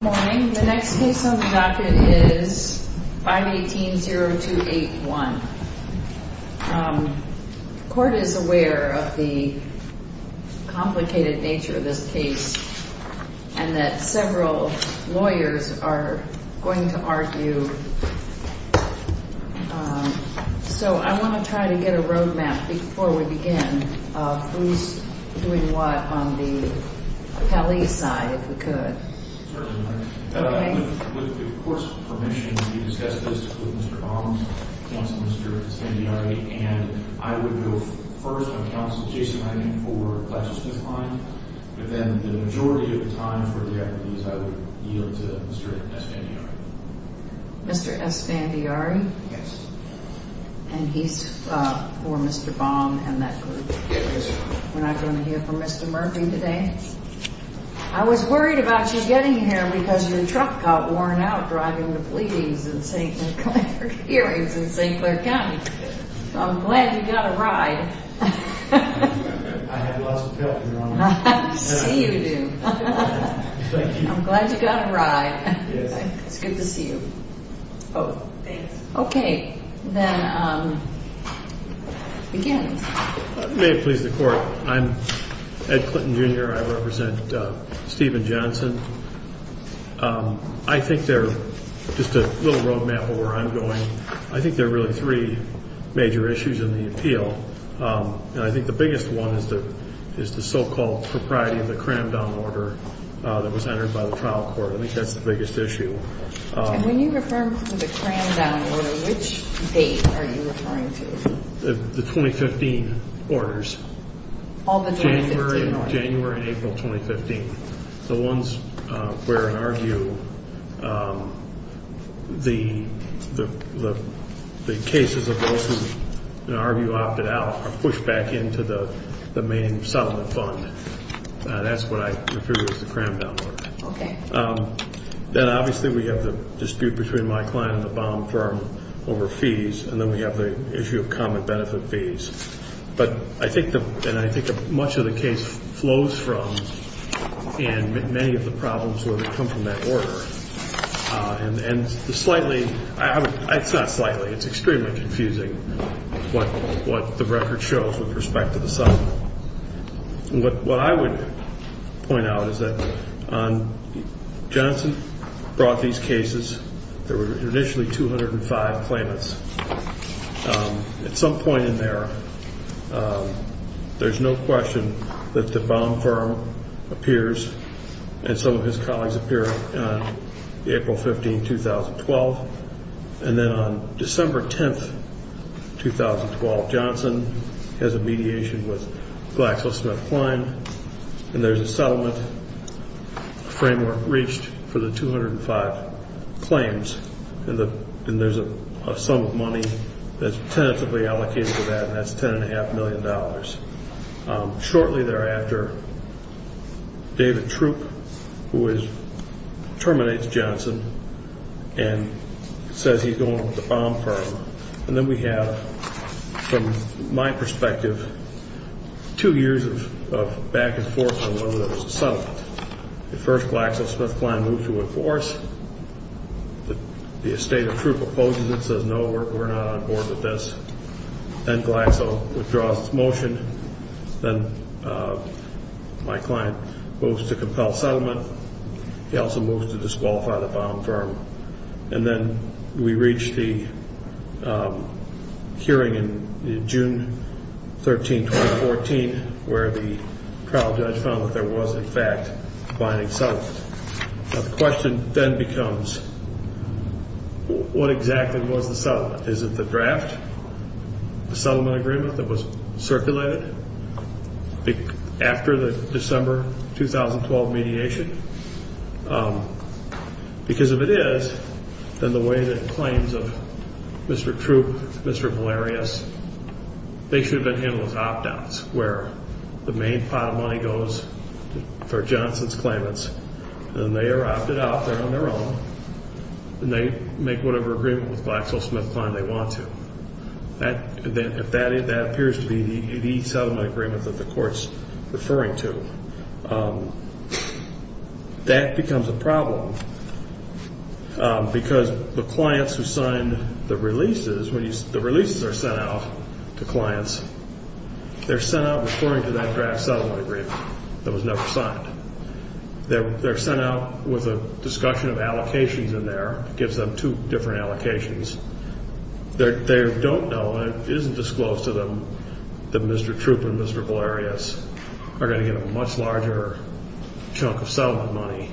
Good morning. The next case on the docket is 518-0281. The court is aware of the complicated nature of this case and that several lawyers are going to argue. So I want to try to get a road map before we begin of who's doing what on the alleged side of the case. With the court's permission to discuss this with Mr. Baum, Counsel Mr. Esfandiari, and I would go first on Counsel's case planning for classroom time, but then the majority of the time for the attorneys I would yield to Mr. Esfandiari. Mr. Esfandiari? Yes. And he's for Mr. Baum and that group? Yes. And I can hear for Mr. Murphy today. I was worried about you getting here because the truck got worn out driving the fleeting St. Clair series in St. Clair County. I'm glad you got a ride. I had a lot of stress in the morning. I'm glad you got a ride. Good to see you. Okay, then begin. May it please the Court, I'm Ed Clinton, Jr. I represent Stephen Johnson. I think there's just a little road map where I'm going. I think there are really three major issues in the appeal. And I think the biggest one is the so-called propriety of the cram down order that was entered by the trial court. At least that's the biggest issue. And when you refer to the cram down order, which date are you referring to? The 2015 orders. All the 2015 orders? January and April 2015. The ones where in our view the cases of those who in our view opted out were pushed back into the main settlement fund. That's what I refer to as the cram down order. Okay. Then obviously we have the dispute between my client and the bond firm over fees. And then we have the issue of common benefit fees. But I think much of the case flows from and many of the problems come from that order. And slightly, not slightly, it's extremely confusing what the record shows with respect to the settlement. What I would point out is that Johnson brought these cases. There were initially 205 claimants. At some point in there, there's no question that the bond firm appears and some of his colleagues appear on April 15, 2012. And then on December 10, 2012, Johnson has a mediation with GlaxoSmithKline. And there's a settlement framework reached for the 205 claims. And there's a sum of money that's tentatively allocated to that, and that's $10.5 million. Shortly thereafter, David Troop, who terminates Johnson, and says he's going with the bond firm. And then we have, from my perspective, two years of back and forth on whether there was a settlement. The first, GlaxoSmithKline moved to enforce. The estate of Troop opposes it, says, no, we're not on board with this. Then Glaxo withdraws its motion. Then my client moves to compel settlement. He also moves to disqualify the bond firm. And then we reach the hearing in June 13, 2014, where the trial judge found that there was, in fact, a binding settlement. The question then becomes, what exactly was the settlement? Is it the draft settlement agreement that was circulated after the December 2012 mediation? Because if it is, then the way that claims of Mr. Troop, Mr. Valerius, they should have been handled as opt-outs. Where the main file money goes for Johnson's claimants. And they are opted out, they're on their own. And they make whatever agreement with GlaxoSmithKline they want to. If that appears to be the settlement agreement that the court's referring to, that becomes a problem. Because the clients who sign the releases, when the releases are sent out to clients, they're sent out according to that draft settlement agreement that was never signed. They're sent out with a discussion of allocations in there. Gives them two different allocations. They don't know, and it isn't disclosed to them, that Mr. Troop and Mr. Valerius are going to get a much larger chunk of settlement money.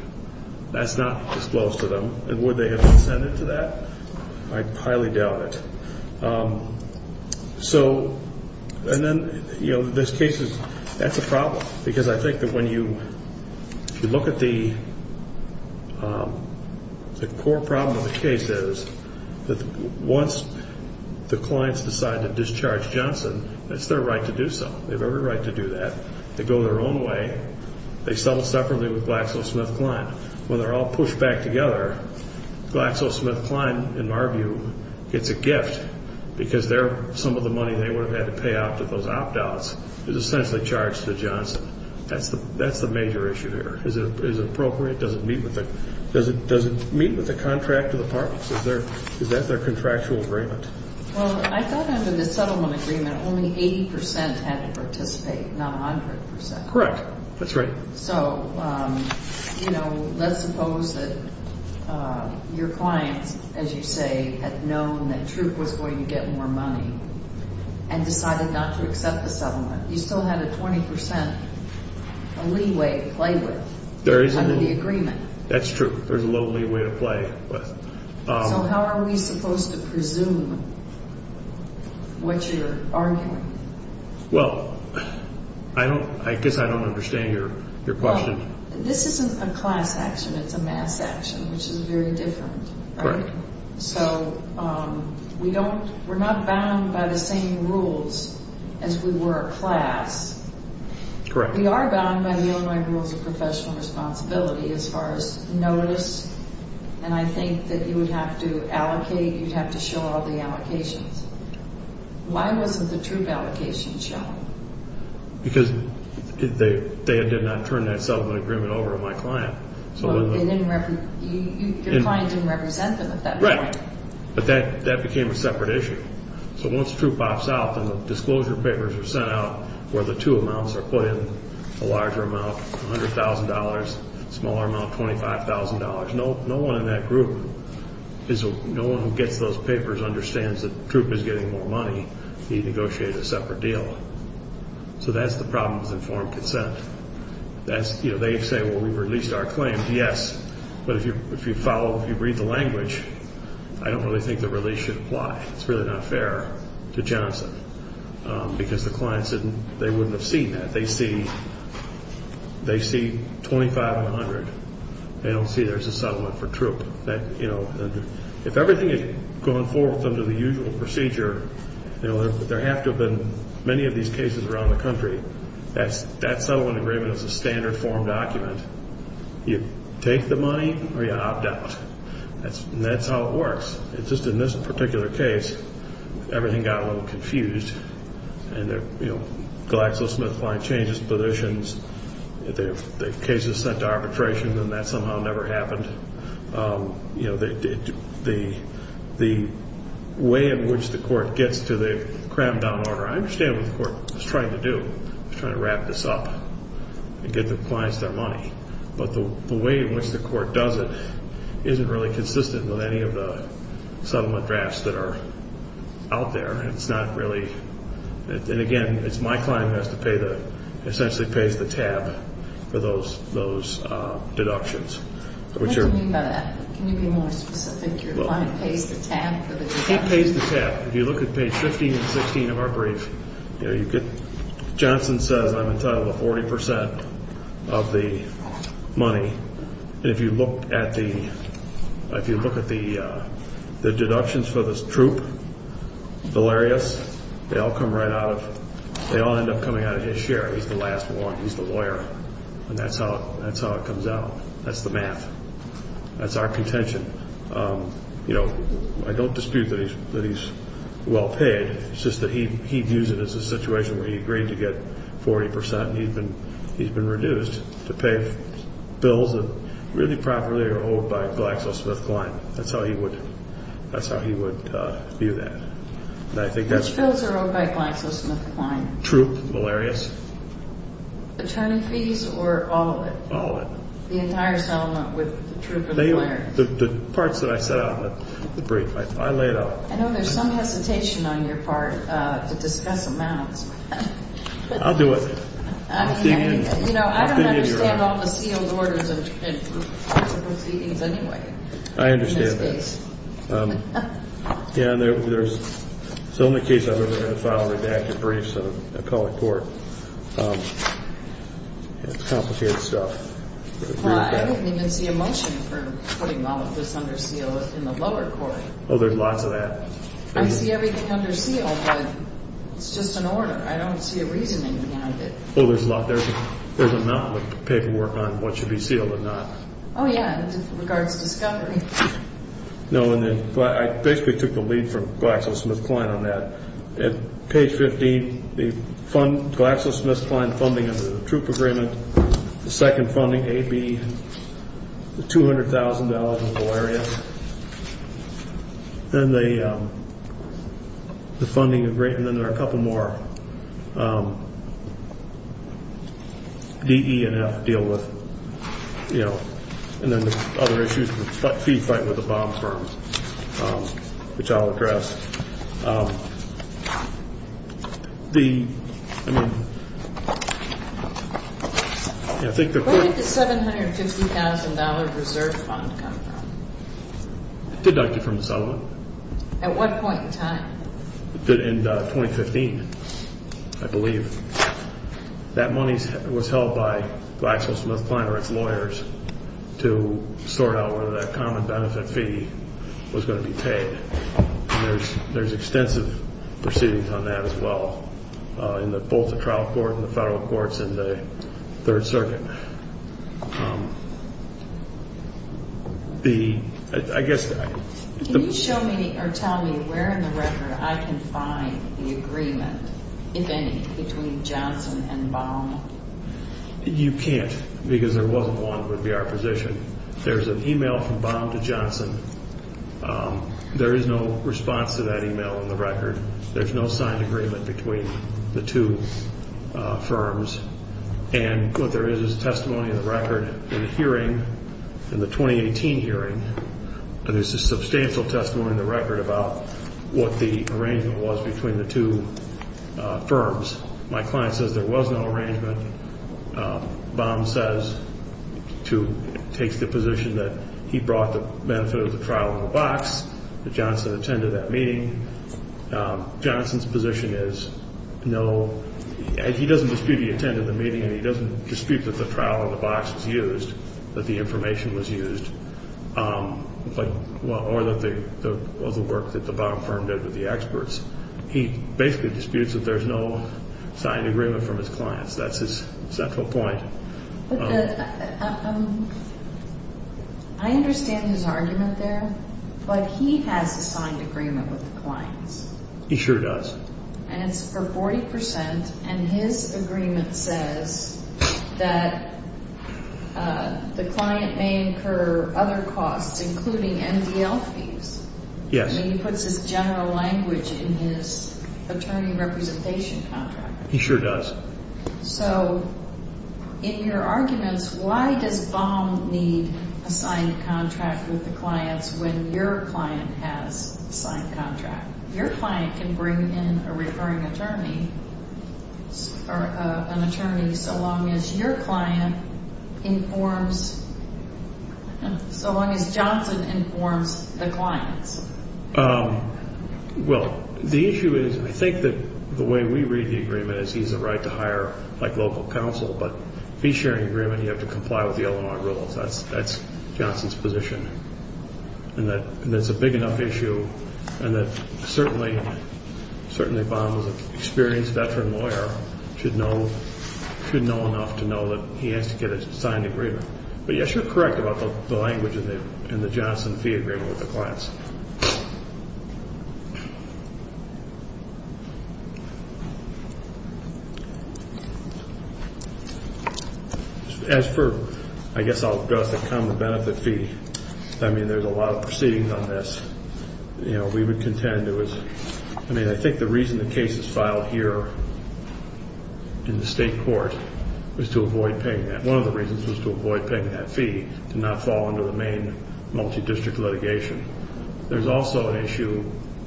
That's not disclosed to them. And would they have consented to that? I highly doubt it. So, and then, you know, this case is, that's a problem. Because I think that when you, if you look at the core problem of the case is that once the clients decide to discharge Johnson, it's their right to do so. They have every right to do that. They go their own way. They settle separately with GlaxoSmithKline. When they're all pushed back together, GlaxoSmithKline, in our view, gets a gift. Because they're, some of the money they would have had to pay out to those opt-outs is essentially charged to Johnson. That's the major issue there. Is it appropriate? Does it meet with the contract to the parties? Is that their contractual agreement? Well, I thought under the settlement agreement, only 80% had to participate, not 100%. Correct. That's right. So, you know, let's suppose that your client, as you say, had known that truth was where you get more money and decided not to accept the settlement. You still had a 20% leeway to play with. There is a leeway. Like the agreement. That's true. There's a low leeway to play with. So how are we supposed to presume what you're arguing? Well, I don't, I guess I don't understand your question. This isn't a class action. It's a math action, which is very different. Correct. So we don't, we're not bound by the same rules as we were at class. Correct. We are bound by the Illinois Rules of Professional Responsibility as far as notice. And I think that you would have to allocate, you'd have to show all the allocations. Why wasn't the truth allocation shown? Because they did not turn that settlement agreement over to my client. So they didn't, your client didn't represent them at that point. Right. But that became a separate issue. So once truth pops out and the disclosure papers are sent out where the two amounts are put in, a larger amount, $100,000, smaller amount, $25,000. No one in that group is, no one who gets those papers understands that the group is getting more money. We negotiated a separate deal. So that's the problem with informed consent. That's, you know, they say, well, we've released our claims. Yes. But if you follow, if you read the language, I don't really think the release should apply. It's really not fair to Johnson because the clients didn't, they wouldn't have seen that. They see, they see $25,000 and $100,000. They don't see there's a settlement for truth. That, you know, if everything is going forth under the usual procedure, you know, there have to have been many of these cases around the country. That settlement agreement is a standard form document. You take the money or you opt out. And that's how it works. It's just in this particular case, everything got a little confused. And, you know, GlaxoSmithKline changes positions. The case is sent to arbitration and that somehow never happened. You know, the way in which the court gets to the cram down order, I understand what the court is trying to do. It's trying to wrap this up and give the clients their money. But the way in which the court does it isn't really consistent with any of the settlement drafts that are out there. It's not really. And, again, it's my client that has to pay the, essentially pays the tab for those deductions. Can you tell me about that? Can you give me a picture of what pays the tab for the deductions? It pays the tab. If you look at page 15 and 16 of our brief, you could, Johnson says I'm entitled to 40% of the money. If you look at the deductions for this troop, Delarius, they all end up coming out of his share. He's the last one. He's the lawyer. And that's how it comes out. That's the math. That's our contention. You know, I don't dispute that he's well paid. It's just that he views it as a situation where he agreed to get 40% and he's been reduced to pay bills that really properly are owed by GlaxoSmithKline. That's how he would view that. Those are owed by GlaxoSmithKline? Troop, Delarius. Return fees or all of it? All of it. The entire settlement with Troop and Delarius? The part that I set out in the brief. I laid out. I know there's some hesitation on your part to discuss amounts. I'll do it. You know, I don't understand all the field orders and proceedings anyway. I understand that. Yeah, and there's, it's the only case I've ever had a file redacted for any sort of colored court. It's complicated stuff. Well, I don't think there's the emotion for putting all of this under seal in the lower court. Well, there's lots of that. I see everything under seal, but it's just an order. I don't see a reasoning behind it. Well, there's a lot. There's a lot of paperwork on what should be sealed and not. Oh, yeah. It's in regards to discovery. No, and then I basically took the lead from GlaxoSmithKline on that. Page 15, the GlaxoSmithKline funding under the troop agreement. The second funding, A, B, the $200,000 in malaria. Then the funding agreement, and there are a couple more. D, E, and F deal with, you know. Other issues with the bond firms, which I'll address. Where did the $750,000 reserve funds come from? It did not come from Selma. At what point in time? In 2015, I believe. That money was held by GlaxoSmithKline or its lawyers to sort out whether that common benefit fee was going to be paid. And there's extensive proceedings on that as well in both the trial court and the federal courts in the Third Circuit. Can you show me or tell me where in the record I can find the agreement, if any, between Johnson and Baum? You can't, because there wasn't one that would be our position. There's an email from Baum to Johnson. There is no response to that email in the record. There's no signed agreement between the two firms. And what there is is a testimony in the record in the hearing, in the 2018 hearing, and there's a substantial testimony in the record about what the arrangement was between the two firms. My client says there was no arrangement. Baum says to take the position that he brought the benefit of the trial in the box, that Johnson attended that meeting. Johnson's position is no. He doesn't dispute he attended the meeting. He doesn't dispute that the trial in the box was used, that the information was used, or the work that the Baum firm did with the experts. He basically disputes that there's no signed agreement from his client. That's his central point. I understand the argument there, but he has a signed agreement with his client. He sure does. And it's for 40%, and his agreement says that the client may incur other costs, including MDLCs. Yes. And he puts his general language in his attorney representation contract. He sure does. So, in your arguments, why does Baum need a signed contract with the client when your client has a signed contract? Your client can bring in a recurring attorney, or an attorney, so long as your client informs, so long as Johnson informs the client. Well, the issue is, we think that the way we read the agreement is he has a right to hire, like, local counsel. But if you share an agreement, you have to comply with the LMR rules. That's Johnson's position. And that's a big enough issue, and that certainly Baum is an experienced veteran lawyer. He should know enough to know that he has to get his signed agreement. But, yes, you're correct about the language in the Johnson fee agreement with the clients. As for, I guess, the common benefit fee, I mean, there's a lot of proceedings on this. You know, we would contend there was, I mean, I think the reason the case is filed here in the state court is to avoid paying that. One of the reasons is to avoid paying that fee and not fall into the main multi-district litigation. There's also an issue,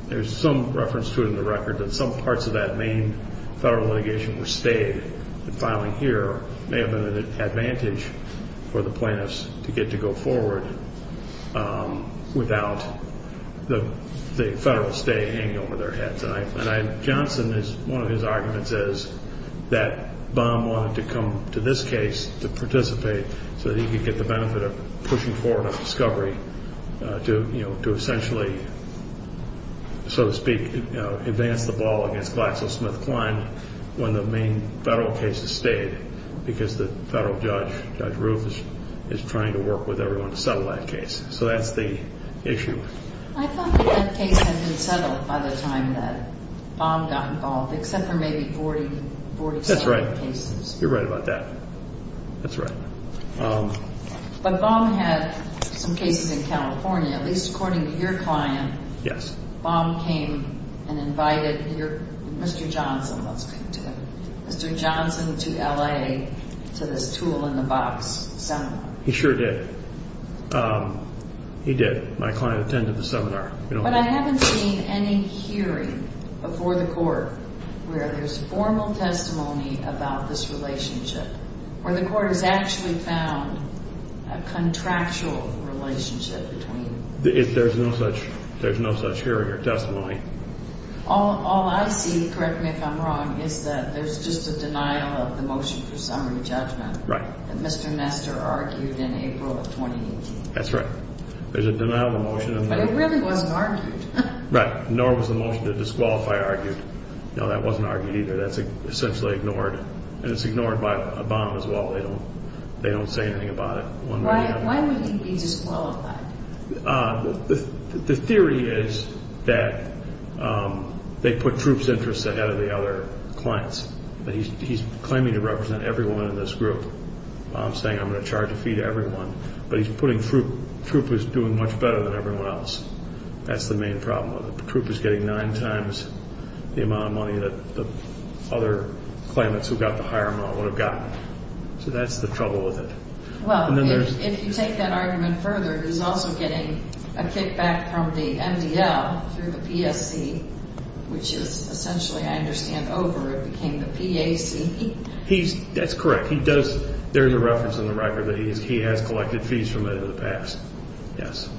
there's some reference to it in the record, that some parts of that main federal litigation were stayed. And filing here may have been an advantage for the plaintiffs to get to go forward without the federal state hanging over their heads. And Johnson, one of his arguments is that Baum wanted to come to this case to participate so that he could get the benefit of pushing forward a discovery to, you know, to essentially, so to speak, advance the ball against GlaxoSmithKline when the main federal case is stayed because the federal judge, Judge Rubens, is trying to work with everyone to settle that case. So that's the issue. I thought that that case had been settled by the time that Baum got involved, except for maybe 40,000 cases. That's right. You're right about that. That's right. But Baum had some cases in California, at least according to your client. Yes. Baum came and invited Mr. Johnson to LA for the tool-in-the-box seminar. He sure did. He did. My client attended the seminar. But I haven't seen any hearing before the court where there's formal testimony about this relationship. Or the court has actually found a contractual relationship between them. There's no such hearing or testimony. All I see, correct me if I'm wrong, is that there's just a denial of the motion for summary judgment. Right. That Mr. Messer argued in April of 2018. That's right. There's a denial of the motion. But it really wasn't argued. Right. Nor was the motion to disqualify argued. No, that wasn't argued either. That's essentially ignored. And it's ignored by Baum as well. They don't say anything about it. Why would he be disqualified? The theory is that they put proofs of interest ahead of the other clients. He's claiming to represent everyone in this group, saying I'm going to charge a fee to everyone. But he's putting troopers doing much better than everyone else. That's the main problem with it. Troopers getting nine times the amount of money that the other claimants who got the higher amount would have gotten. So that's the trouble with it. Well, if you take that argument further, he's also getting a kickback from the NBL through the BSE. Which is essentially, I understand, over. It became the BSE. That's correct. There's a reference in the record that he has collected fees from it in the past.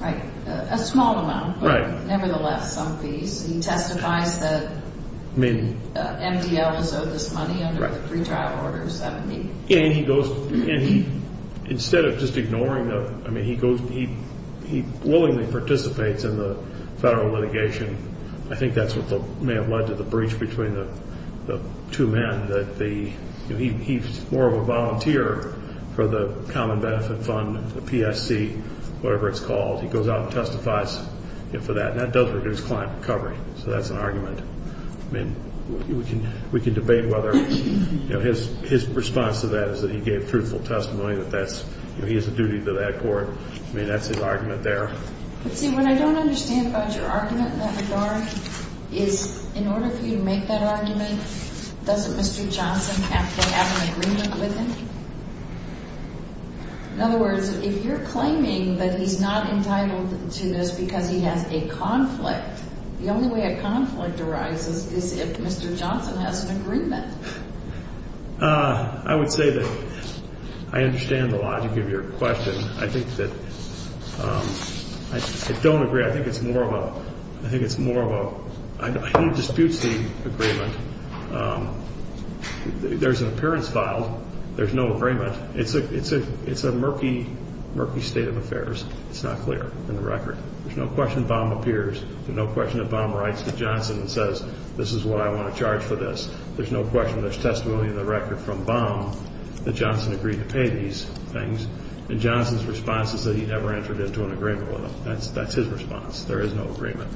Right. A small amount. Nevertheless, some fees. He testified that NBL was owed this money under the pretrial orders. Yeah, and he goes, instead of just ignoring them, he willingly participates in the federal litigation. I think that's what may have led to the breach between the two men. He's more of a volunteer for the Common Benefit Fund, the PST, whatever it's called. He goes out and testifies for that. And that does lead to his client's recovery. So that's an argument. I mean, we can debate whether his response to that is that he gave truthful testimony, that he has a duty to that court. I mean, that's the argument there. You see, what I don't understand about your argument that far is, in order for you to make that argument, doesn't Mr. Johnson have to have an agreement with him? In other words, if you're claiming that he's not entitled to this because he has a conflict, the only way a conflict arises is if Mr. Johnson has an agreement. I would say that I understand a lot of your question. I think that, I don't agree. I think it's more of a, I think it's more of a, I don't dispute the agreement. There's an appearance filed. There's no agreement. It's a murky, murky state of affairs. It's not clear in the record. There's no question Baum appears. There's no question that Baum writes to Johnson and says, this is what I want to charge for this. There's no question there's testimony in the record from Baum that Johnson agreed to pay these things. And Johnson's response is that he never entered into an agreement with him. That's his response. There is no agreement.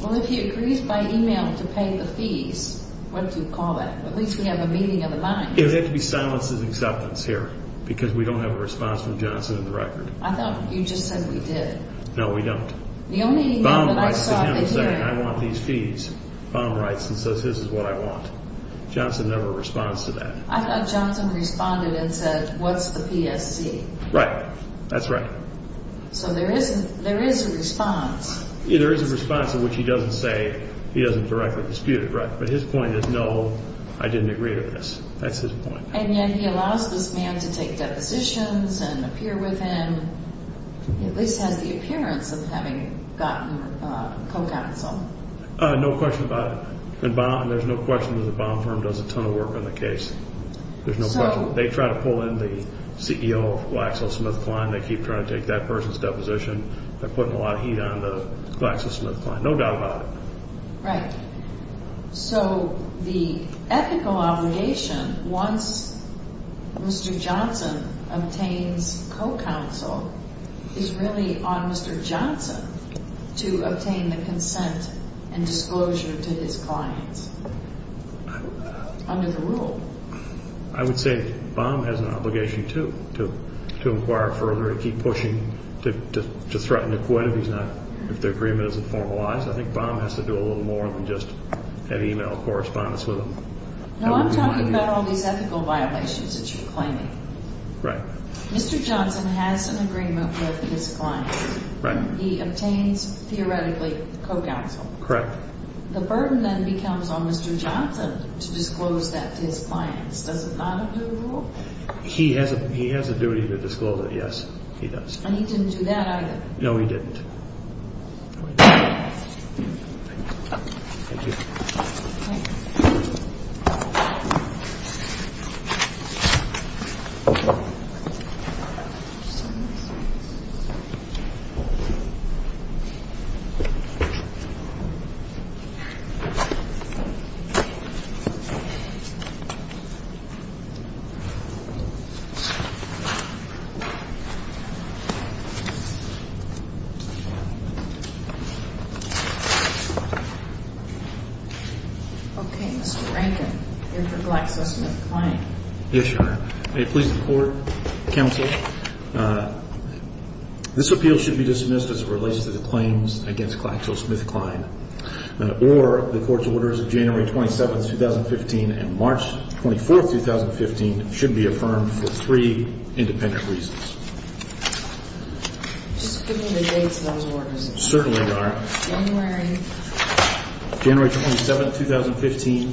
Well, if he agrees by e-mail to pay the fees, what do you call that? At least we have a meeting of the mind. There would have to be silence and acceptance here because we don't have a response from Johnson in the record. I thought you just said we did. No, we don't. The only e-mail that I saw was here. Baum writes to him and says, I want these fees. Baum writes and says, this is what I want. Johnson never responds to that. I thought Johnson responded and said, what's the PFC? Right. That's right. So there is a response. Yeah, there is a response to which he doesn't say he doesn't directly dispute it. Right. But his point is, no, I didn't agree with this. That's his point. And then he allows this man to take depositions and appear with him. He at least has the appearance of having gotten a co-counsel. No question about it. And there's no question that the Baum firm does a ton of work on the case. There's no question. They try to pull in the CEO of GlaxoSmithKline. They keep trying to take that person's deposition. They're putting a lot of heat on the GlaxoSmithKline. No doubt about it. Right. So the ethical obligation, once Mr. Johnson obtains co-counsel, is really on Mr. Johnson to obtain the consent and disclosure to his clients under the rule. I would say Baum has an obligation, too, to inquire further, to keep pushing, to threaten to quit if the agreement isn't formalized. I think Baum has to do a little more than just have e-mails, correspondence with him. Now, I'm talking about all these ethical violations that you're claiming. Right. Mr. Johnson has an agreement with his clients. Right. He obtains, theoretically, co-counsel. Correct. The burden then becomes on Mr. Johnson to disclose that to his clients. Does that apply to the rule? He has a duty to disclose it, yes, he does. And he didn't do that, either. No, he didn't. Thank you. Okay. Mr. Rankin. Here for GlaxoSmithKline. Yes, Your Honor. May it please the Court, counsel, this appeal should be dismissed as it relates to the claims against GlaxoSmithKline, or the Court's orders January 27, 2015, and March 24, 2015, should be affirmed for three independent reasons. Certainly, Your Honor. January 27, 2015,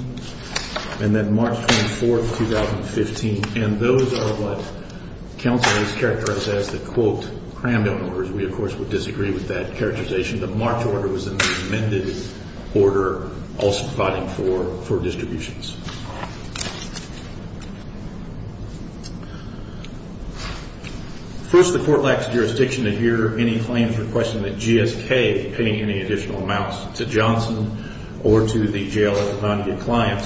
and then March 24, 2015. And those are what counsel has characterized as the, quote, crammed orders. We, of course, would disagree with that characterization. The marked order was an amended order also providing for distributions. First, the Court lacks jurisdiction to hear any claim to the question that GSK paid any additional amounts to Johnson or to the JLS and Brown v. Kline,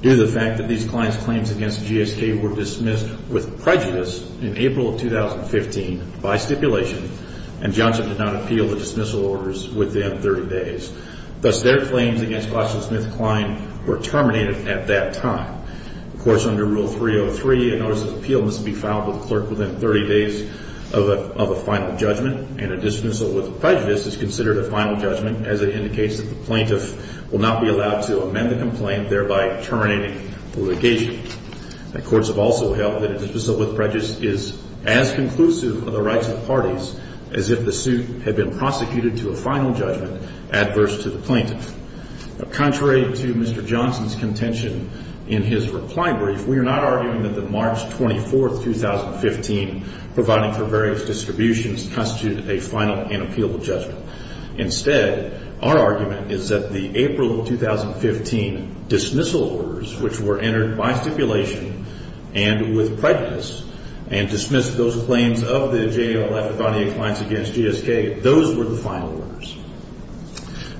due to the fact that these clients' claims against GSK were dismissed with prejudice in April of 2015 by stipulation, and Johnson did not appeal the dismissal orders within 30 days. Thus, their claims against GlaxoSmithKline were terminated at that time. Of course, under Rule 303, a notice of appeal must be filed with the clerk within 30 days of a final judgment, and a dismissal with prejudice is considered a final judgment as it indicates the plaintiff will not be allowed to amend the complaint, thereby terminating the litigation. The courts have also held that a dismissal with prejudice is as conclusive of the rights of parties as if the suit had been prosecuted to a final judgment adverse to the plaintiff. Contrary to Mr. Johnson's contention in his reply brief, we are not arguing that the March 24, 2015, providing for various distributions constitutes a final and appealable judgment. Instead, our argument is that the April of 2015 dismissal orders, which were entered by stipulation and with prejudice, and dismissed those claims of the JLF Bonney clients against GSK, those were the final orders.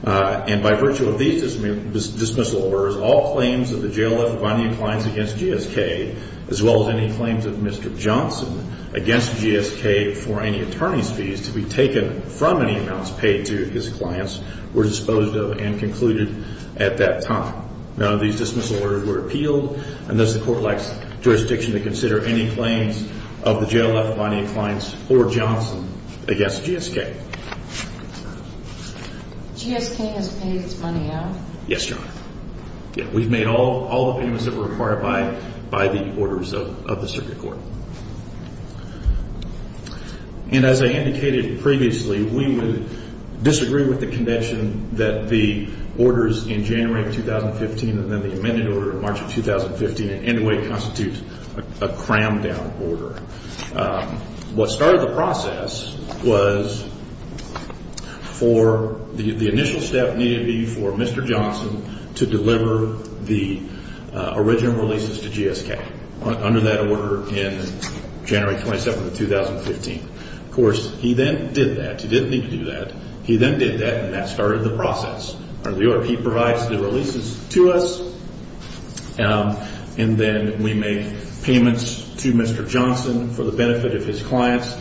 And by virtue of these dismissal orders, all claims of the JLF Bonney clients against GSK, as well as any claims of Mr. Johnson against GSK for any attorney's fees to be taken from any accounts paid to his clients, were disposed of and concluded at that time. None of these dismissal orders were appealed. And thus, the court lacks jurisdiction to consider any claims of the JLF Bonney clients or Johnson against GSK. GSK has paid its money out? Yes, Your Honor. We've made all the payments that were required by the orders of the circuit court. And as I indicated previously, we would disagree with the conviction that the orders in January of 2015 and then the amended order in March of 2015 in any way constitutes a crammed-down order. What started the process was for the initial step needed to be for Mr. Johnson to deliver the original releases to GSK under that order in January 27th of 2015. Of course, he then did that. He didn't need to do that. He then did that, and that started the process. The OIP provides the releases to us, and then we make payments to Mr. Johnson for the benefit of his clients.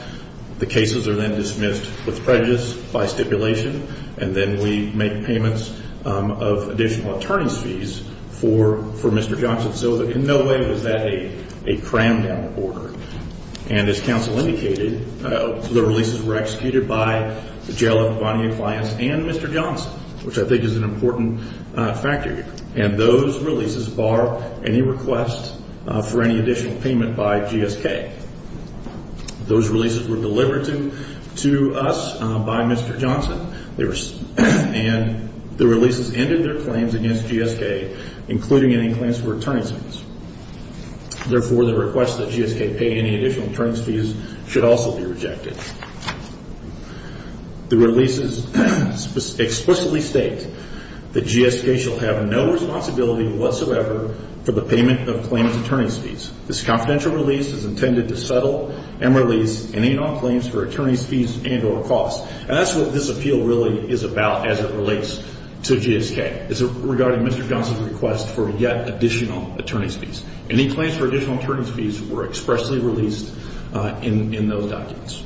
The cases are then dismissed with prejudice by stipulation, and then we make payments of additional attorney's fees for Mr. Johnson. So in no way is that a crammed-down order. And as counsel indicated, the releases were executed by the JLF Bonney clients and Mr. Johnson, which I think is an important factor here. And those releases bar any request for any additional payment by GSK. Those releases were delivered to us by Mr. Johnson, and the releases ended their claims against GSK, including any plans for attorney's fees. Therefore, the request that GSK pay any additional attorney's fees should also be rejected. The releases explicitly state that GSK shall have no responsibility whatsoever for the payment of claims attorney's fees. This confidential release is intended to settle, emerlease, and anon claims for attorney's fees and or costs. And that's what this appeal really is about as it relates to GSK. It's regarding Mr. Johnson's request for yet additional attorney's fees. Any claims for additional attorney's fees were expressly released in those documents.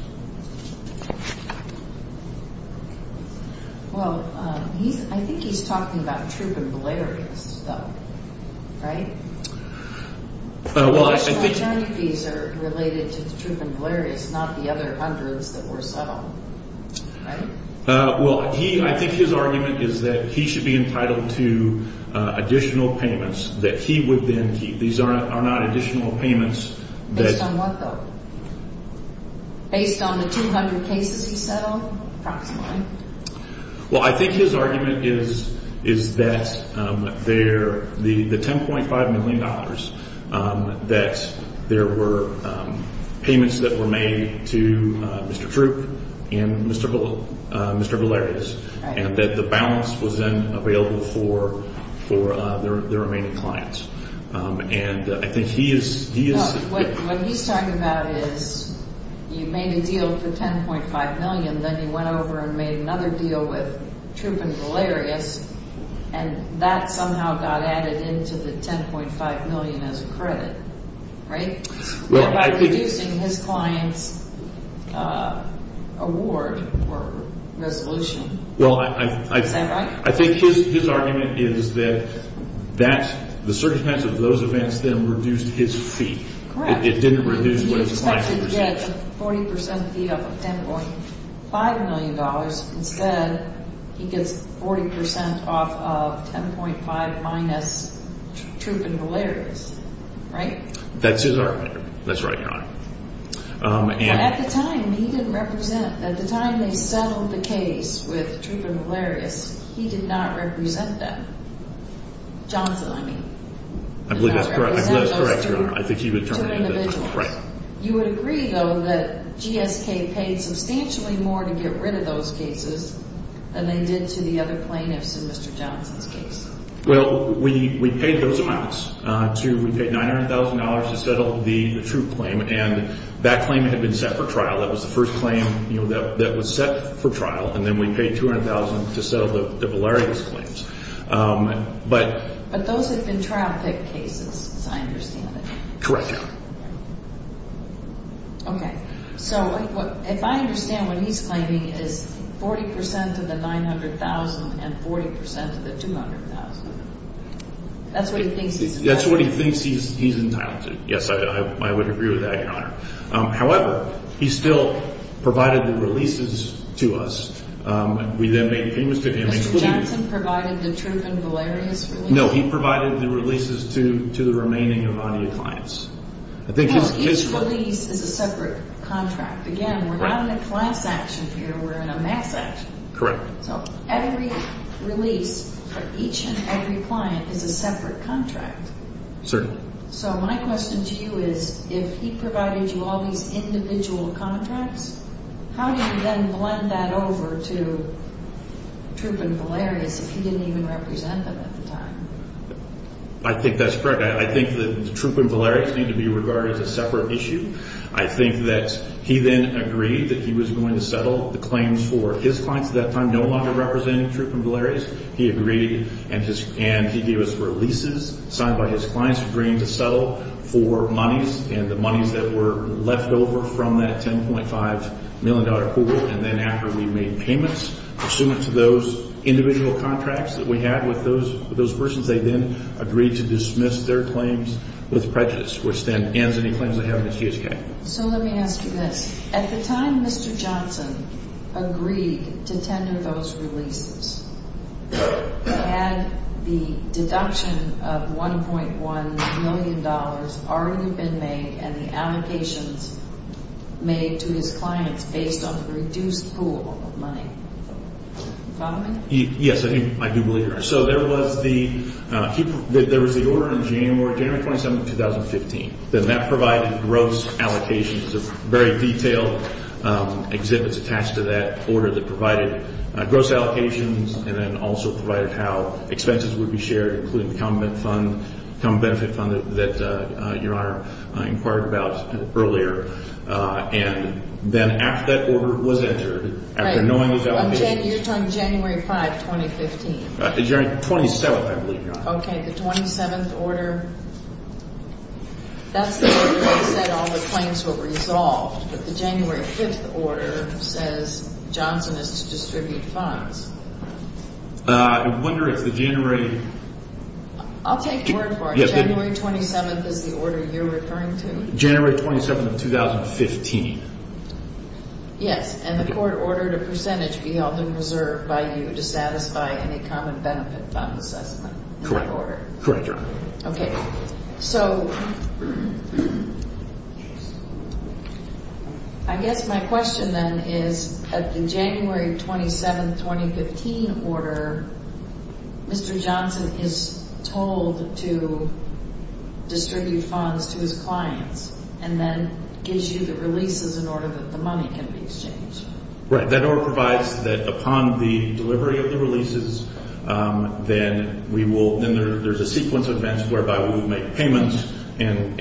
Well, I think he's talking about truth and hilarious stuff, right? Well, I think... Well, I think his argument is that he should be entitled to additional payments that he would then keep. These are not additional payments that... Well, I think his argument is that the $10.5 million that there were payments that were made to Mr. Troop and Mr. Valerius, and that the balance was then available for the remaining clients. And I think he is... No, what he's talking about is he made a deal for $10.5 million, then he went over and made another deal with Troop and Valerius, and that somehow got added into the $10.5 million as a credit, right? Well, I think... He's using his client's award for resolution. Well, I think his argument is that that's... The surcharge pass of those events then reduced his fee. Correct. It didn't reduce Mr. Troop and Valerius' fee. He was supposed to get 40% fee off of $10.5 million. Instead, he gets 40% off of $10.5 million minus Troop and Valerius, right? That's his argument. That's what I thought. At the time, he didn't represent them. At the time they settled the case with Troop and Valerius, he did not represent them. Johnson, I mean. I believe that's correct. I believe that's correct. I think he was talking about that. You agree, though, that GSK paid substantially more to get rid of those cases than they did to the other plaintiffs in Mr. Johnson's case. Well, we paid those amounts. We paid $900,000 to settle the Troop claim, and that claim had been set for trial. That was the first claim that was set for trial, and then we paid $200,000 to settle the Valerius claims. But those have been traffic cases, as I understand it. Correct. Okay. So, if I understand what he's claiming, it's 40% of the $900,000 and 40% of the $200,000. That's what he thinks he's entitled to. That's what he thinks he's entitled to. Yes, I would agree with that, Your Honor. However, he still provided the releases to us. We then made—he was taking— Johnson provided the Troop and Valerius releases? No, he provided the releases to the remaining Avani clients. Well, each release is a separate contract. Again, we're not in a class action here, we're in a mass action. Correct. So, every release for each and every client is a separate contract? Certainly. So, my question to you is, if he provided you all these individual contracts, how do you then blend that over to Troop and Valerius if he didn't even represent them at the time? I think that's correct. I think that Troop and Valerius need to be regarded as a separate issue. I think that he then agreed that he was going to settle the claims for his clients at that time no longer representing Troop and Valerius. He agreed and he gave us releases signed by his clients agreeing to settle for monies and the monies that were left over from that $10.5 million pool. And then after we made payments, pursuant to those individual contracts that we had with those persons, they then agreed to dismiss their claims with prejudice which then ends any claims they have in the case. So, let me ask you this. At the time Mr. Johnson agreed to tender those releases, had the deduction of $1.1 million already been made and an allocation made to the client based on the reduced pool of money? Yes, I do believe that. So, there was the order on January 27, 2015. That provided gross allocations, a very detailed exhibit attached to that order that provided gross allocations and then also provided how expenses would be shared including the common benefit fund that Your Honor inquired about earlier. And then after that order was entered, after knowing the allocation… You're talking January 5, 2015. January 27, I believe, Your Honor. Okay, the 27th order… That's the order that said all the claims were resolved, but the January 5th order says Johnson is to distribute funds. I wonder if the January… I'll take the word for it. January 27th is the order you're referring to? January 27th, 2015. Yes, and the court ordered a percentage be held in reserve provided you would satisfy any common benefits on the settlement in that order. Correct, Your Honor. Okay. So, I guess my question then is that the January 27, 2015 order, Mr. Johnson is told to distribute funds to his clients and then gives you the releases in order that the money can be exchanged. Right, that order provides that upon the delivery of the releases, then there's a sequence of events whereby we would make payments and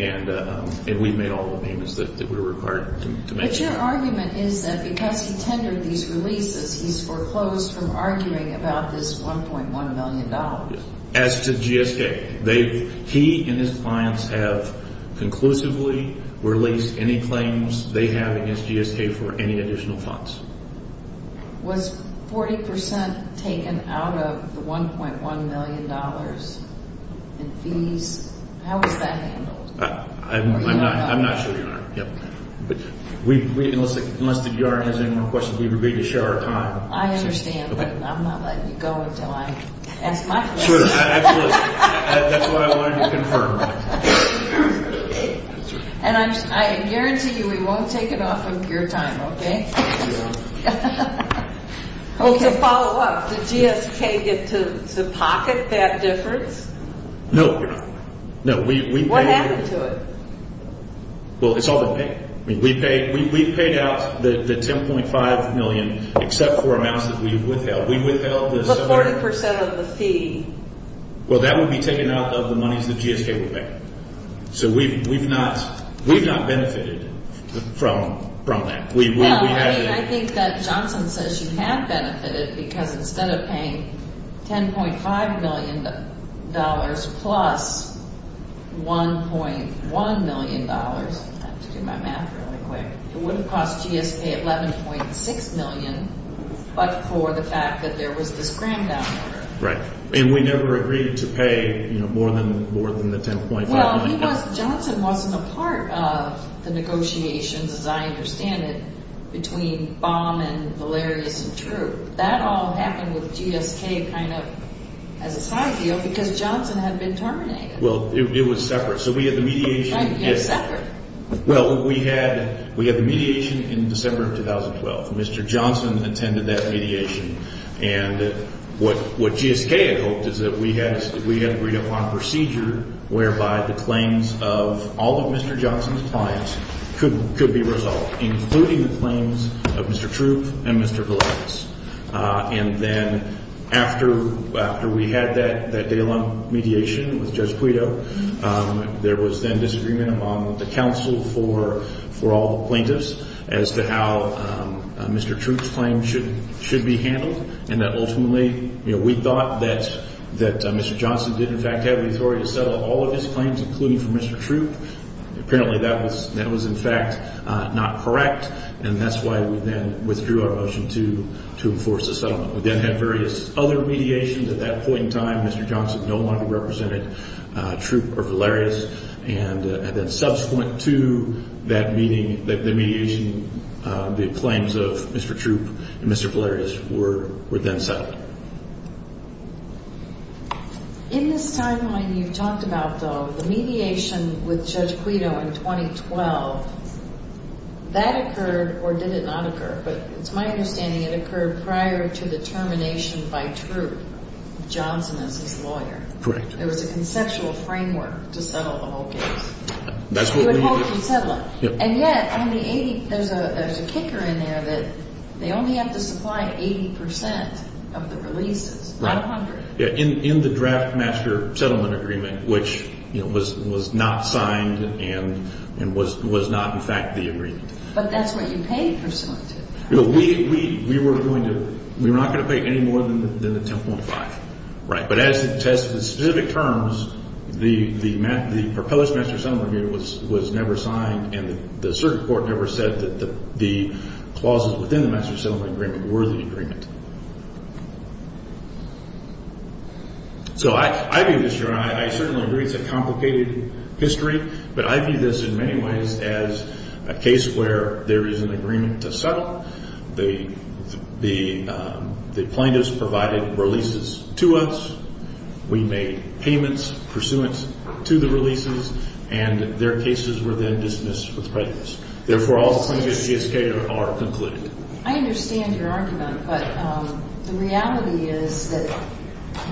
we've made all the payments that we were required to make. But your argument is that because he tendered these releases, he's foreclosed from arguing about this $1.1 million. As to GSK, he and his clients have conclusively released any claims they have against GSK for any additional funds. Was 40% taken out of the $1.1 million in fees? How is that handled? I'm not sure, Your Honor. Unless the BJA has any more questions, we would be able to share our time. I understand, but I'm not letting you go until I ask my questions. Sure, absolutely. That's what I wanted to confirm. And I guarantee you we won't take it off with your time, okay? We won't. Okay, follow-up. Did GSK get to the pocket that difference? No. What happened to it? Well, it's all been paid. We paid out the $10.5 million, except for amounts that we withheld. What's 40% of the fees? Well, that would be taken out of the money that GSK would pay. So we've not benefited from that. I think that Johnson says you have benefited because instead of paying $10.5 million plus $1.1 million, I have to do my math really quick, it would have cost GSK $11.6 million, but for the fact that there was this grand down payment. Right. And we never agreed to pay more than the $10.5 million. Well, Johnson wasn't a part of the negotiations, as I understand it, between Baum and Valerius and True. That all happened with GSK kind of as a side deal because Johnson had been terminated. Well, it was separate. So we had the mediation. I see it separate. Well, we had the mediation in December of 2012. Mr. Johnson attended that mediation. And what GSK had hoped is that we had agreed upon a procedure whereby the claims of all of Mr. Johnson's clients could be resolved, including the claims of Mr. True and Mr. Valerius. And then after we had that day-long mediation with Judge Guido, there was then disagreement among the counsel for all plaintiffs as to how Mr. True's claim should be handled, and that ultimately we thought that Mr. Johnson did, in fact, have the authority to settle all of his claims, including for Mr. True. Apparently that was, in fact, not correct, and that's why we then withdrew our motion to enforce the settlement. We then had various other mediations at that point in time. Mr. Johnson no longer represented True or Valerius, and then subsequent to that meeting, the mediation, the claims of Mr. True and Mr. Valerius were then settled. In this timeline you talked about, though, the mediation with Judge Guido in 2012, that occurred or did it not occur? But it's my understanding it occurred prior to the termination by True of Johnson as his lawyer. Correct. There was a conceptual framework to settle all cases. That's what we did. To enforce the settlement. And yet, there's a kicker in there that they only have to supply 80 percent of the releases, not 100. In the Draft Master Settlement Agreement, which was not signed and was not, in fact, the agreement. But that's what you paid for some of it. We were not going to pay any more than the 10.5. Right. But as the specific terms, the proposed Master Settlement Agreement was never signed, and the circuit court never said that the clauses within the Master Settlement Agreement were the agreement. So I agree with you, and I certainly agree it's a complicated history, but I view this in many ways as a case where there is an agreement to settle. The plaintiffs provided releases to us. We made payments pursuant to the releases, and their cases were then dismissed with prejudice. Therefore, all claims against the estate are concluded. I understand your argument, but the reality is that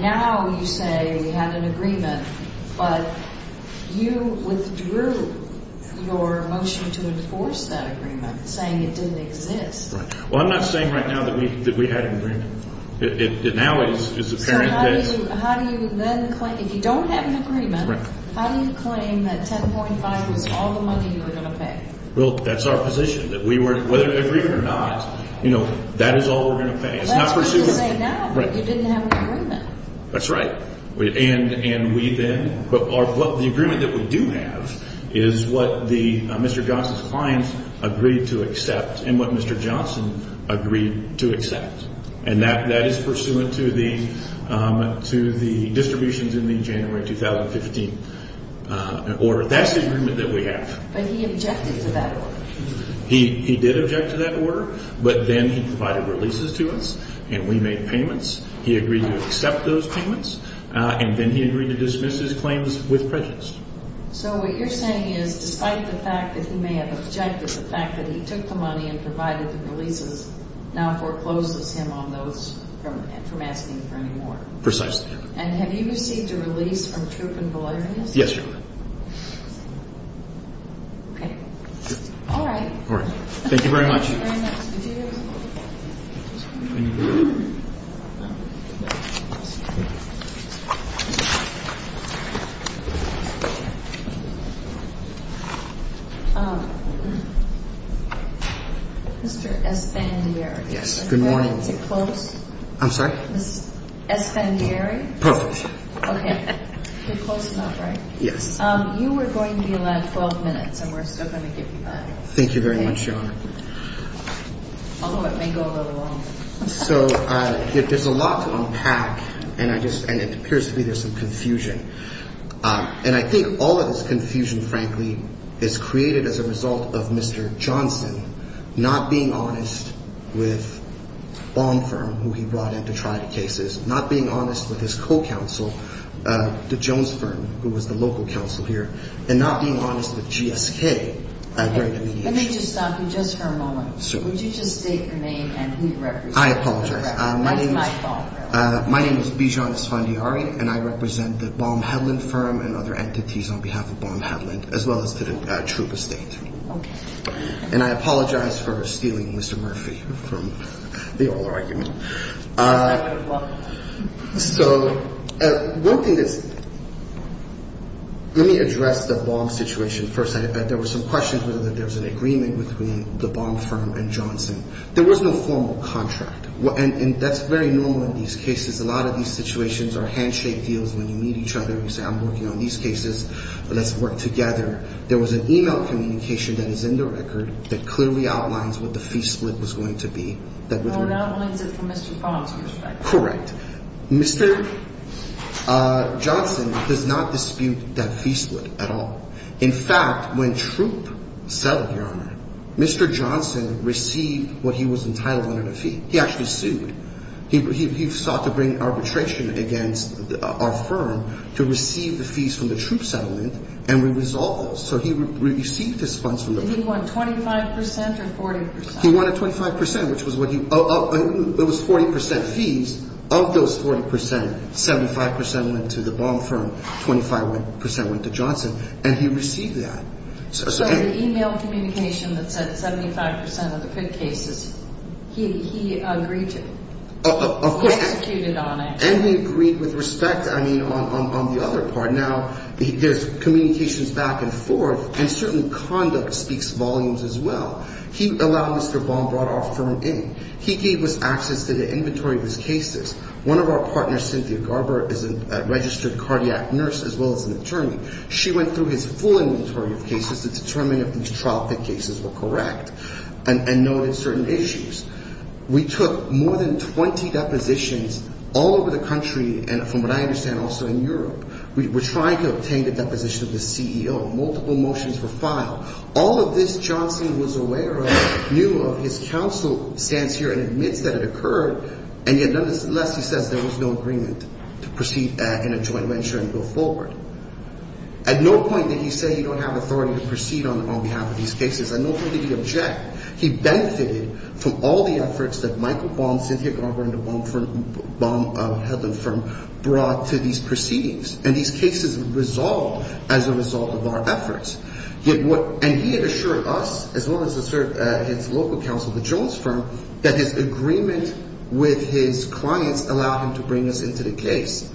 now you say we have an agreement, but you withdrew your motion to enforce that agreement, saying it didn't exist. Well, I'm not saying right now that we had an agreement. It now is apparent that— How do you then claim—if you don't have an agreement, how do you claim that 10.5 was all the money you were going to pay? Well, that's our position, that we weren't—whether an agreement or not, you know, that is all we're going to pay. It's not pursuant— Well, I'm saying right now that you didn't have an agreement. That's right. And we then—but the agreement that we do have is what Mr. Johnson's client agreed to accept and what Mr. Johnson agreed to accept, and that is pursuant to the distributions in the January 2015 order. That's the agreement that we have. But he objected to that order. He did object to that order, but then he provided releases to us, and we made payments. He agreed to accept those payments, and then he agreed to dismiss his claims with prejudice. So what you're saying is, despite the fact that he may have objected, the fact that he took the money and provided the releases now foreclosed us him on those from asking for any more. Precisely. And have you received a release from troop and delivery? Yes, Your Honor. Okay. All right. All right. Thank you very much. Thank you very much. Thank you. Mr. Espanieri. Yes. Good morning. May I have you close? I'm sorry? Espanieri? Close. Okay. You're close enough, right? Yes. You were going to be last 12 minutes, and we're still going to get you back. Thank you very much, Your Honor. Although it may go a little longer. So, there's a lot unpacked, and it appears to me there's some confusion. And I think all of this confusion, frankly, is created as a result of Mr. Johnston not being honest with the farm firm who he brought in to try the cases, not being honest with his co-counsel, the Jones firm, who was the local counsel here, and not being honest with GSK. Okay. Let me just stop you just for a moment. Certainly. Would you just state your name and who you represent? I apologize. My name is... I apologize. My name is Bijan Espanieri, and I represent the Baumhadlen firm and other entities on behalf of Baumhadlen, as well as to the troop estate. Okay. And I apologize for stealing Mr. Murphy from the argument. I apologize. So, one thing that... Let me address the Baum situation first. There were some questions whether there was an agreement between the Baum firm and Johnson. There was no formal contract, and that's very normal in these cases. A lot of these situations are handshake deals where you meet each other and say, I'm working on these cases, let's work together. There was an e-mail communication that is in the record that clearly outlines what the fee split was going to be. Well, that was from Mr. Baum's perspective. Correct. Mr. Johnson does not dispute that fee split at all. In fact, when troop settled here, Mr. Johnson received what he was entitled in a fee. He actually sued. He sought to bring arbitration against our firm to receive the fees from the troop settlement, and we resolved it. So, he received his funds from the... And he won 25% or 40%? He won 25%, which was what he... It was 40% fees. Of those 40%, 75% went to the Baum firm, 25% went to Johnson, and he received that. So, the e-mail communication that said 75% of the credit cases, he agreed to... Okay. He executed on it. And he agreed with respect, I mean, on the other part. Now, there's communications back and forth, and certainly conduct speaks volumes as well. He allowed Mr. Baum brought our firm in. He gave us access to the inventory of his cases. One of our partners, Cynthia Garber, is a registered cardiac nurse as well as an attorney. She went through his full inventory of cases to determine if his trial cases were correct and noted certain issues. We took more than 20 depositions all over the country and, from what I understand, also in Europe. We were trying to obtain the deposition of the CEO. Multiple motions were filed. All of this Johnson was aware of, knew of, his counsel stands here and admits that it occurred, and yet nonetheless he says there was no agreement to proceed in a joint venture and go forward. At no point did he say he don't have authority to proceed on behalf of these cases. At no point did he object. He benefited from all the efforts that Michael Baum, Cynthia Garber, and the Baum firm brought to these proceedings. And these cases resolved as a result of our efforts. And he assured us, as well as his local counsel, the Jones firm, that his agreement with his client allowed him to bring us into the case.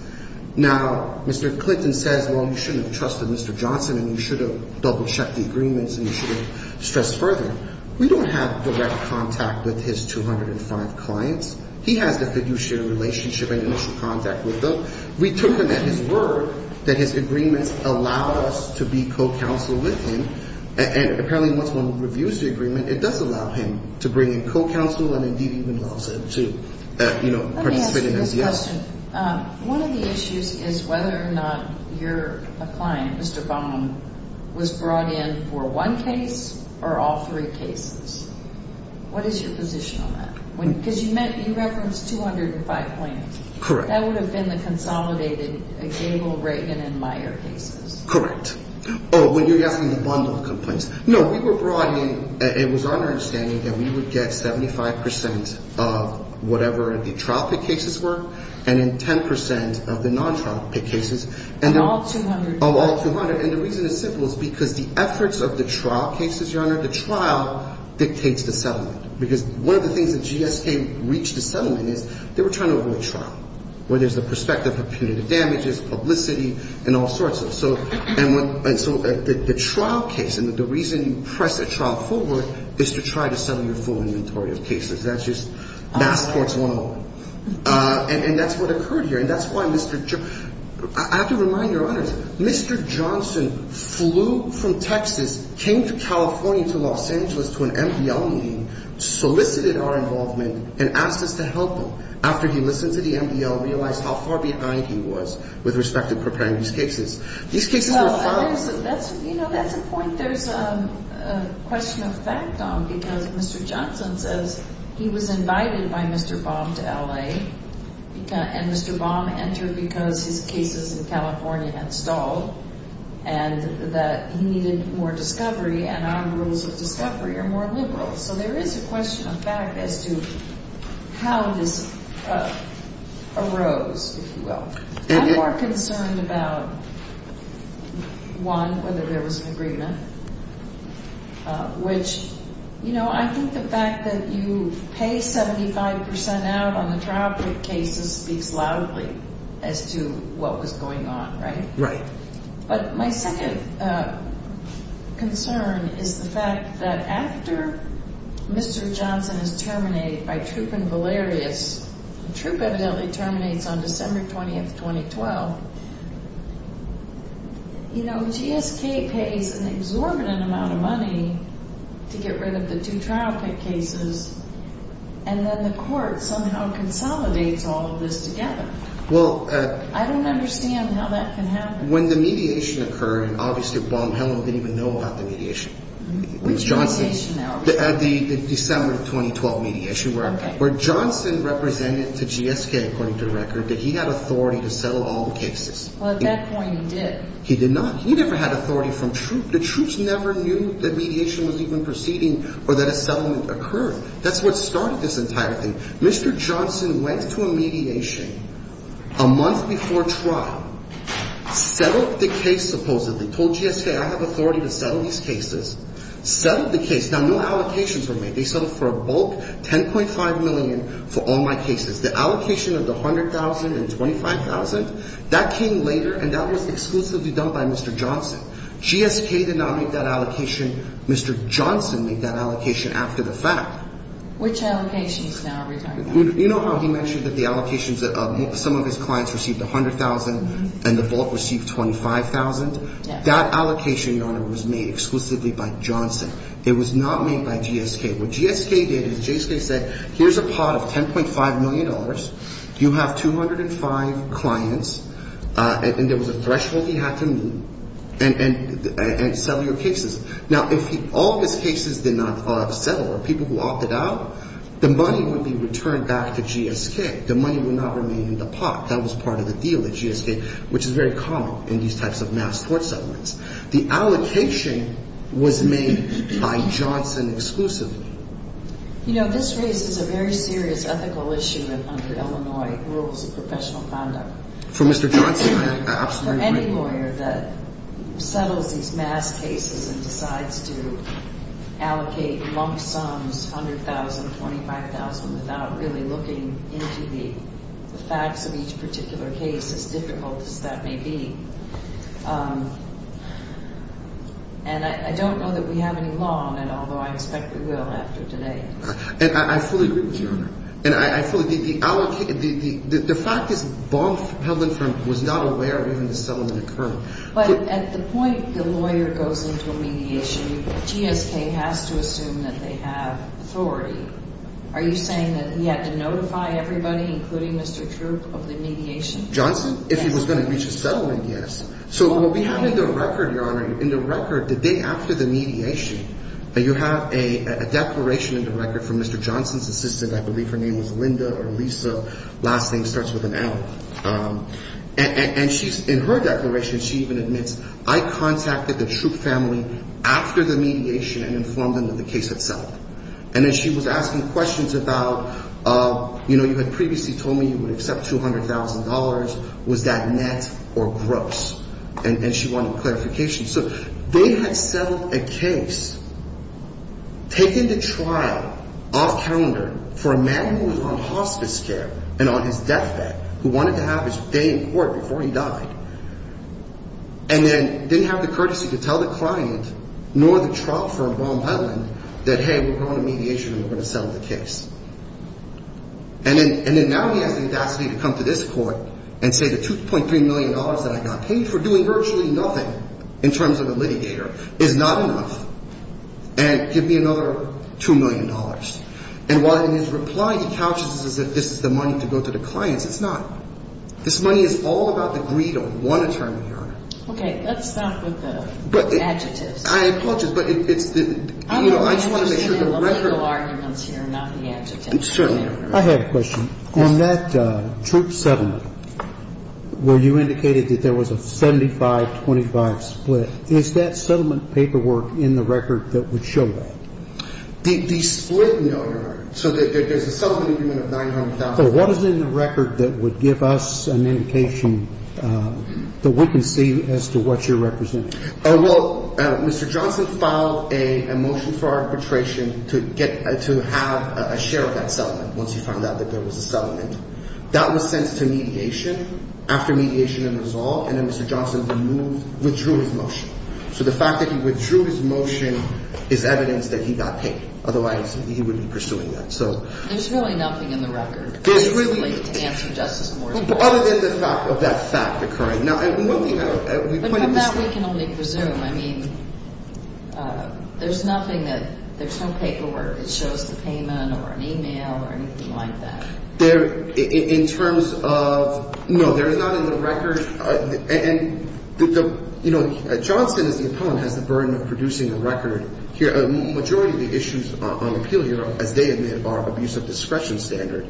Now, Mr. Clinton says, well, you shouldn't have trusted Mr. Johnson and you should have double-checked the agreements and you should have stressed further. We don't have direct contact with his 205 clients. He has a fiduciary relationship and he should contact with us. We took him at his word that his agreement allowed us to be co-counsel with him. And apparently, once one reviews the agreement, it does allow him to bring in co-counsel and indeed even allow us to, you know, participate in MDS. Let me ask you this question. One of the issues is whether or not your client, Mr. Baum, was brought in for one case or all three cases. What is your position on that? Because you referenced 205 clients. Correct. That would have been the consolidated Gable, Reagan, and Meyer cases. Correct. Oh, well, you're yelling at one of the complaints. No, we were brought in and it was our understanding that we would get 75% of whatever the trial cases were and then 10% of the non-trial cases. Of all 200? Of all 200. And the reason it's simple is because the efforts of the trial cases, Your Honor, the trial dictates the settlement. Because one of the things that GSK reached a settlement in, they were trying to avoid trial, where there's the perspective of punitive damages, publicity, and all sorts of stuff. And so the trial case and the reason you press a trial forward is to try to settle your full inventory of cases. That's just not the case one-on-one. And that's what occurred here. And that's why Mr. – I have to remind Your Honor, Mr. Johnson flew from Texas, came to California to Los Angeles to an MDL meeting, solicited our involvement, and asked us to help him after he listened to the MDL and realized how far behind he was with respect to preparing these cases. These cases were trial cases. You know, that's important. There's a question of facts on because Mr. Johnson says he was invited by Mr. Baum to L.A. and Mr. Baum entered because his cases in California had stalled and that he needed more discovery, and our rules of discovery are more liberal. So there is a question of fact as to how this arose, if you will. I'm more concerned about, one, whether there was an agreement, which, you know, I think the fact that you pay 75% out on the trial court cases speaks loudly as to what was going on, right? Right. But my second concern is the fact that after Mr. Johnson is terminated by Trup and Valerius, and Trup evidently terminates on December 20th, 2012, you know, GSK pays an exorbitant amount of money to get rid of the two trial court cases, and then the court somehow consolidates all of this together. I don't understand how that can happen. Well, when the mediation occurred, obviously Baum hadn't even known about the mediation. The mediation outbreak. At the December 2012 mediation where Johnson represented the GSK according to the record, did he have authority to settle all the cases? Well, at that point he did. He did not. He never had authority from Trup. The Trups never knew that mediation was even proceeding or that a settlement occurred. That's what started this entire thing. Mr. Johnson went to a mediation a month before trial, settled the case supposedly, told GSK I have authority to settle these cases, settled the case. Now, no allocations were made. They settled for a bulk $10.5 million for all my cases. The allocation of the $100,000 and $25,000, that came later, and that was exclusively done by Mr. Johnson. GSK did not make that allocation. Mr. Johnson made that allocation after the fact. Which allocations now? You know how he mentioned that the allocations of some of his clients received $100,000 and the bulk received $25,000? That allocation, Your Honor, was made exclusively by Johnson. It was not made by GSK. What GSK did is GSK said here's a pot of $10.5 million, you have 205 clients, and there was a threshold you had to meet, and settle your cases. Now, if all the cases did not settle or people walked it out, the money would be returned back to GSK. The money would not remain in the pot. That was part of the deal with GSK, which is very common in these types of mass court settlements. The allocation was made by Johnson exclusively. You know, this raises a very serious ethical issue under Illinois rules of professional conduct. For Mr. Johnson, that's absolutely true. For any lawyer that settles these mass cases and decides to allocate long sums, $100,000, $25,000, without really looking into the facts of each particular case, as difficult as that may be. And I don't know that we have any law on that, although I expect we will after today. And I fully agree with you, Your Honor. And I fully agree. The fact is, the bulk held in front was not aware of even the settlement had occurred. But at the point the lawyer goes into remediation, GSK has to assume that they have authority. Are you saying that he has to notify everybody, including Mr. Troop, of the mediation? Johnson? If he was going to reach a settlement, yes. So what we have in the record, Your Honor, in the record, the day after the mediation, you have a declaration in the record from Mr. Johnson's assistant. I believe her name was Linda or Lisa. Last name starts with an L. And in her declaration, she even admits, I contacted the Troop family after the mediation and informed them of the case itself. And then she was asking questions about, you know, you had previously told me you would accept $200,000. Was that net or gross? And she wanted clarification. So they had settled a case, taken the trial off calendar, for a man who was on hospice care and on his deathbed, who wanted to have a stay in court before he died, and then didn't have the courtesy to tell the client, nor the Trump or Obama that, hey, we're going to mediate, we're going to settle the case. And then now he has the audacity to come to this court and say the $2.3 million that I got paid for doing virtually nothing, in terms of a living share, is not enough. And give me another $2 million. And while he's replying to counsels as if this is the money to go to the client, it's not. This money is all about the greed of one attorney. Okay. Let's stop with the adjectives. I told you, but I just wanted to make sure the record was clear. I'm going to make a little argument here, not the adjectives. Sure. I have a question. On that Trump settlement, where you indicated that there was a 75-25 split, is that settlement paperwork in the record that would show that? The split, no, Your Honor. So there's something to do with $900,000. So what is it in the record that would give us an indication that we can see as to what you're representing? Well, Mr. Johnson filed a motion for arbitration to have a share of that settlement, once he found out that there was a settlement. That was sent to mediation, after mediation and resolve, and then Mr. Johnson withdrew his motion. So the fact that he withdrew his motion is evidence that he got paid, otherwise he wouldn't be pursuing that. There's really nothing in the record that can answer Justice Moore's question. Other than the fact of that fact occurring. From that we can only presume. I mean, there's nothing that, there's some paperwork that shows the payment or an email or anything like that. In terms of, no, there's not in the record. And, you know, Mr. Johnson, in his time, had the burden of producing a record. The majority of the issues on the appeal here, as they admit, are abuse of discretion standards.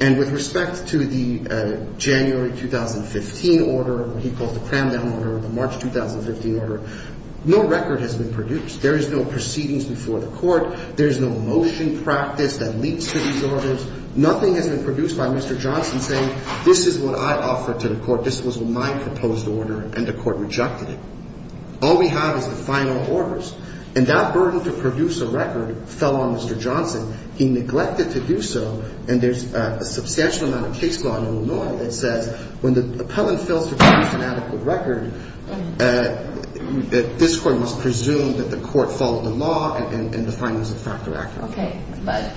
And with respect to the January 2015 order, what he called the pandemic order, the March 2015 order, no record has been produced. There is no proceedings before the court. There is no motion practiced that leaks to these orders. Nothing has been produced by Mr. Johnson saying, this is what I offer to the court, this was my proposed order, and the court rejected it. All we have is the final orders. And that burden to produce a record fell on Mr. Johnson. He neglected to do so. And there's a substantial amount of case law in Illinois that said, when the appellant fails to produce an adequate record, this court must presume that the court follows the law and the findings of the Factor Act. Okay, but...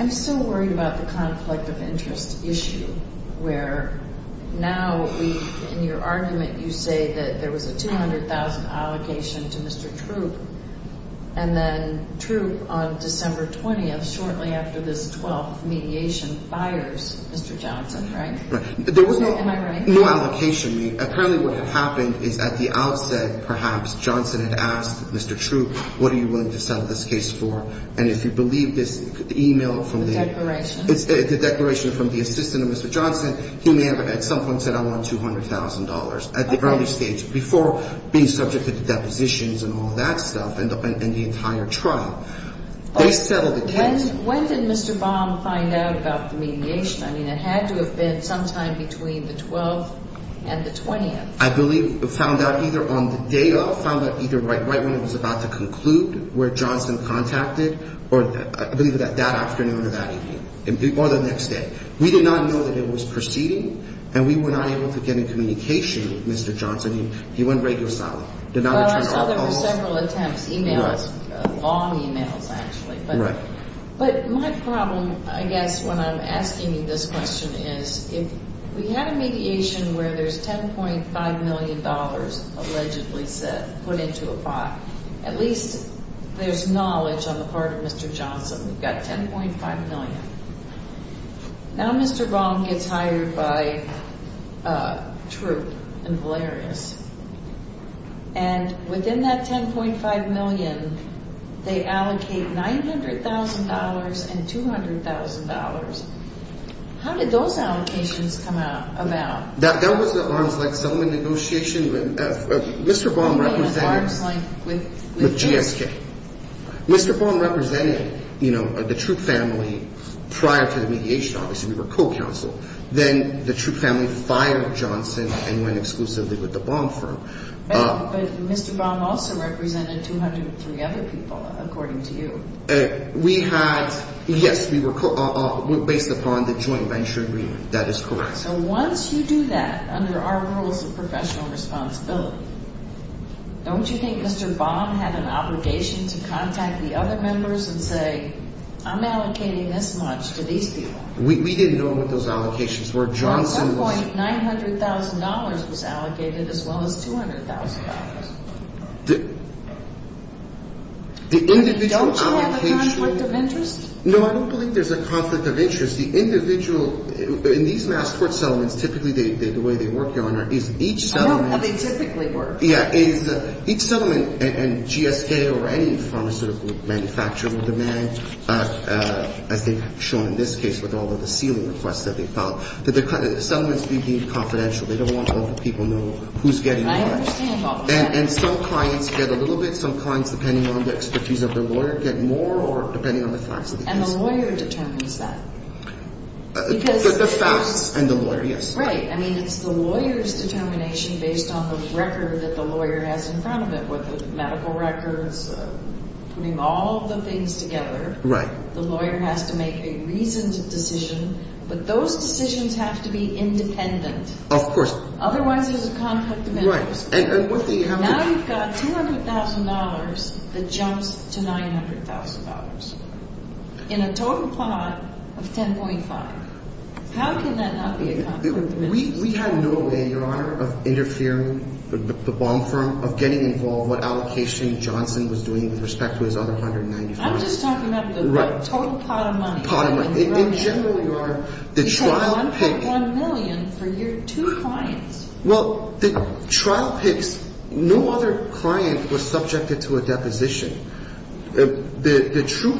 I'm still worried about the conflict of interest issue, where now, in your argument, you say that there was a $200,000 allocation to Mr. Troop, and then Troop, on December 20th, shortly after this 12th mediation, fired Mr. Johnson, right? There was no allocation. Apparently, what happened is, at the outset, perhaps, Johnson had asked Mr. Troop, what are you willing to settle this case for? And if you believe this email from the... The declaration. The declaration from the assistant of Mr. Johnson, he may have, at some point, said, I want $200,000 at the earliest stage, before being subject to depositions and all that stuff, and the entire trial. When did Mr. Baum find out about the mediation? I mean, it had to have been sometime between the 12th and the 20th. I believe he found out either on the day of, found out either right when it was about to conclude, where Johnson contacted, or I believe that that afternoon or that evening, or the next day. We did not know that it was proceeding, and we were not able to get in communication with Mr. Johnson. He went right this time. Well, I saw there were several attempts, emails, long emails, actually. But my problem, I guess, when I'm asking this question is, if we have mediation where there's $10.5 million, allegedly said, put into a file, at least there's knowledge on the part of Mr. Johnson. We've got $10.5 million. Now Mr. Baum gets hired by a troop in Blair. And within that $10.5 million, they allocate $900,000 and $200,000. How did those allocations come about? That was the only negotiation that Mr. Baum represented with GXJ. Mr. Baum represented the troop family prior to the mediation. Obviously, we were co-counsel. Then the troop family fired Johnson and went exclusively with the Baum firm. But Mr. Baum also represented 203 other people, according to you. Yes, we were based upon the joint venture agreement. That is correct. So once you do that, under our rules of professional responsibility, don't you think Mr. Baum had an obligation to contact the other members and say, I'm allocating this much to these people? We didn't do it with those allocations. At that point, $900,000 was allocated as well as $200,000. Is that a conflict of interest? No, I don't believe there's a conflict of interest. The individual, in these mass tort settlements, typically the way they work, Your Honor, is each settlement. Oh, they typically work. Yeah. Each settlement, and GSA or any firm sort of manufacturing demand, as I think shown in this case with all of the sealing requests that they filed. So the settlements need to be confidential. They don't want other people to know who's getting what. I understand that. And still trying to get a little bit sometimes, depending on the expertise of the lawyer, to get more or depending on the faculty. And the lawyer determines that. The faculty and the lawyer, yes. Right. I mean, it's the lawyer's determination based on the record that the lawyer has in front of it, whether it's medical records, putting all of the things together. Right. The lawyer has to make a reasoned decision. But those decisions have to be independent. Of course. Otherwise there's a conflict of interest. Right. Now you've got $200,000 that jumps to $900,000. In a total plot of 10.5. How can that not be a conflict of interest? We have no idea of interfering with the bond firm, of getting involved, what allocation Johnson was doing with respect to his other $195,000. I'm just talking about the total pot of money. Pot of money. In general we are. You had $110 million for your two clients. Well, the trial page, no other client was subjected to a deposition. The true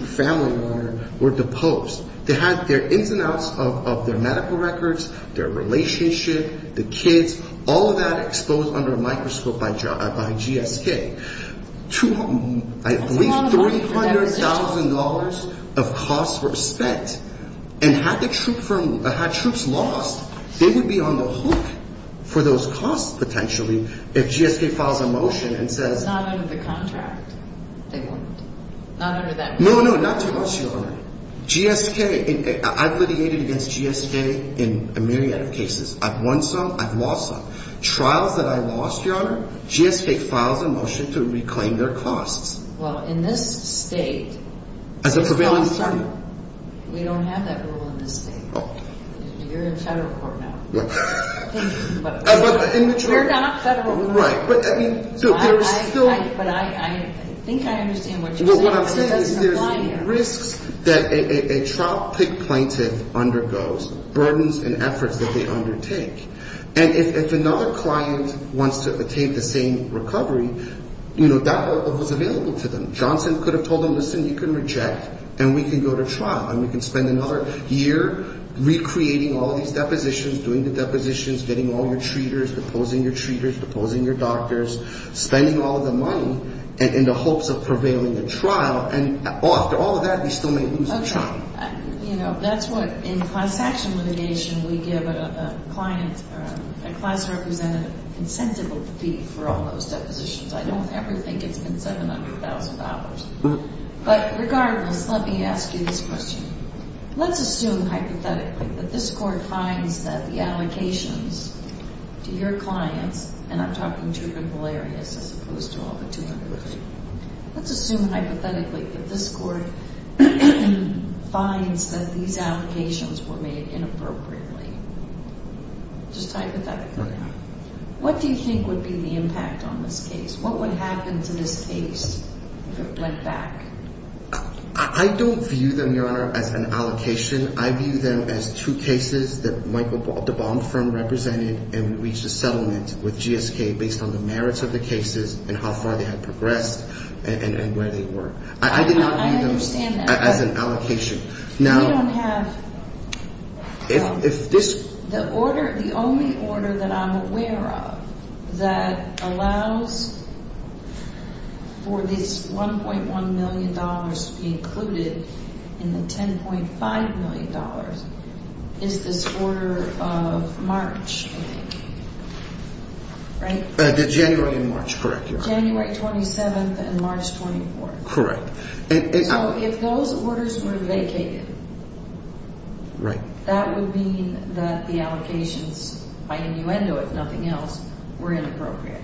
family owner were the Popes. They had their ins and outs of their medical records, their relationship, the kids, all of that exposed under a microscope by GSK. At least $300,000 of costs were spent. And had troops lost, they would be on the hook for those costs potentially if GSK filed a motion and said. Filing the contract. No, no, not to us, Your Honor. GSK, I've litigated against GSK in a million cases. I've won some, I've lost some. Trials that I've lost, Your Honor, GSK filed a motion to reclaim their costs. Well, in this state. As a prevailing state. We don't have that rule in this state. You're in federal court now. We're not federal. Right. But I think I understand what you're saying. What I'm saying is there's a risk that a trial plaintiff undergoes. Burdens and efforts will be undertaken. And if another client wants to obtain the same recovery, you know, that was available to them. Johnson could have told them, listen, you can reject, and we can go to trial, and we can spend another year recreating all these depositions, doing the depositions, getting all your treaters, proposing your treaters, proposing your doctors, spending all the money, in the hopes of prevailing the trial. And after all of that, you still may lose the trial. You know, that's what, in client action litigation, we give a client, a client's representative, a consensual fee for all those depositions. I don't ever think it's been $700,000. But regardless, let me ask you this question. Let's assume, hypothetically, that this court finds that the allocations to your client, and I'm talking to the lawyer here, as opposed to all the jurors. Let's assume, hypothetically, that this court finds that these allocations were made inappropriately. Just hypothetically. What do you think would be the impact on this case? What would happen to this case if it went back? I don't view them as an allocation. I view them as two cases that the bond firm represented and reached a settlement with GSK, based on the merits of the cases, and how far they have progressed, and where they were. I do not view them as an allocation. Now, the only order that I'm aware of that allows for these $1.1 million to be included in the $10.5 million is the order of March, right? The January and March, correct. January 27th and March 24th. Correct. If those orders were vacated, that would mean that the allocations, by innuendo, if nothing else, were inappropriate.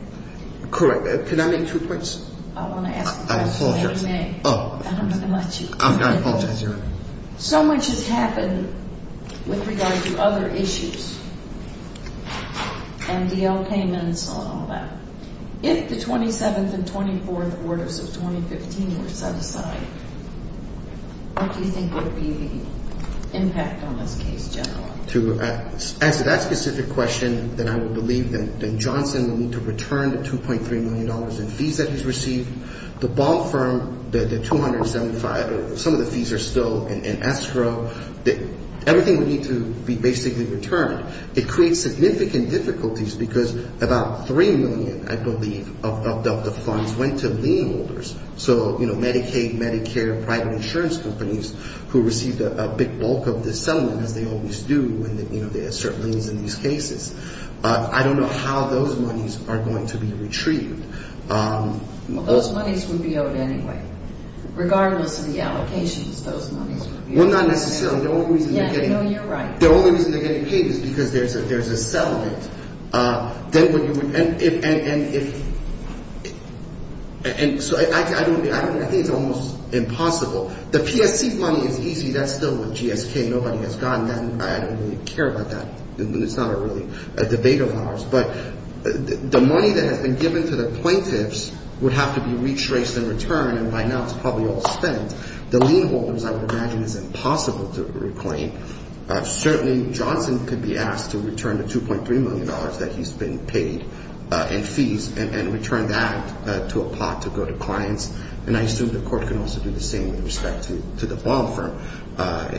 Correct. Can I make two points? I want to ask a question, if you may. And I'm going to let you. I apologize, Your Honor. So much has happened, with regard to other issues, and the allotments and all that. If the 27th and 24th orders of 2015 were set aside, what do you think would be the impact on this case, General? To answer that specific question, then I would believe that Johnson would need to return the $2.3 million in fees that he's received. The bond firm, the $275,000, all the fees are still in extra. Everything would need to be basically returned. It creates significant difficulties, because about $3 million, I believe, of the funds went to lien holders. So, you know, Medicaid, Medicare, private insurance companies, who received a big bulk of this settlement, as they always do, when they assert leniency cases. I don't know how those monies are going to be retrieved. Those monies would be owed anyway, regardless of the allocations of those monies. Well, not necessarily. No, you're right. They're always going to get paid, because there's a settlement. I think it's almost impossible. The PFP money is easy. That's still with GSK. Nobody has gotten that money. I don't really care about that. It's not really a debate of ours. But the money that has been given to the plaintiffs would have to be retraced in return, and by now it's probably all spent. The lien holders, I would imagine, is impossible to reclaim. Certainly, Jonathan could be asked to return the $2.3 million that he's been paid in fees and return that to a pot to go to clients. And I assume the court can also do the same with respect to the bond firm,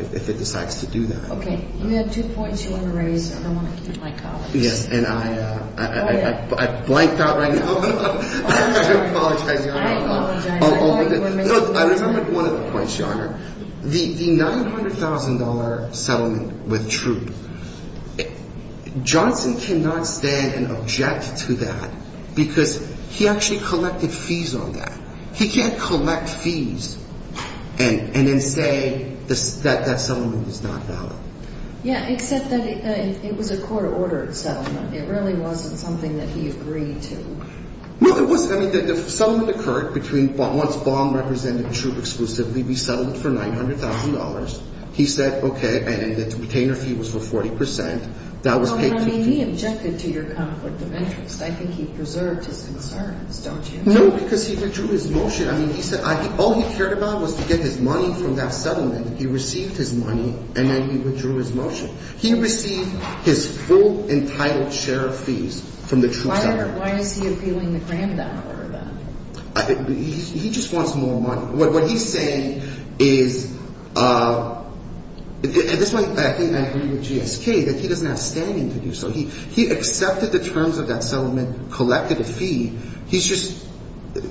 if it decides to do that. Okay. You have two points you want to raise. I don't want you to black out. Yes, and I blanked out right now. I didn't apologize. No, I remembered one of the points, Yonah. The $900,000 settlement was true. Jonathan cannot stand and object to that because he actually collected fees on that. He can't collect fees and then say that that settlement is not valid. Yeah, except that it was a court-ordered settlement. It really wasn't something that he agreed to. No, it wasn't. I mean, the settlement occurred between what the bond representative drew exclusively. He settled it for $900,000. He said, okay, and the retainer fee was for 40%. I mean, he objected to your conflict of interest. I think he preserved his concern. No, because he withdrew his motion. I mean, all he cared about was to get his money from that settlement. He received his money, and then he withdrew his motion. He received his full entitled share of fees from the true seller. Why is he appealing the grand battle over that? He just wants more money. What he's saying is, and this is why I think I agree with G.S. King, that he does not stand to do so. He accepted the terms of that settlement, collected a fee. He just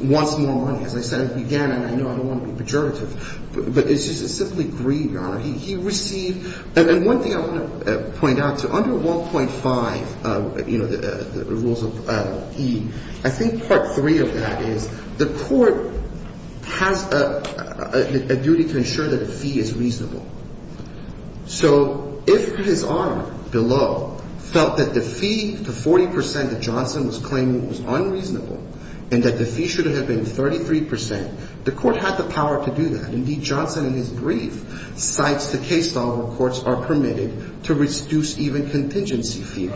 wants more money. As I said at the beginning, I don't want to be pejorative, but it's just simply greed, Your Honor. He received, and one thing I want to point out, under 1.5, the rules of fee, I think part three of that is the court has a duty to ensure that the fee is reasonable. So if his arm, the law, felt that the fee, the 40% that Johnson was claiming was unreasonable, and that the fee should have been 33%, the court had the power to do that. Indeed, Johnson and his brief, besides the case law, the courts are permitted to reduce even contingency fees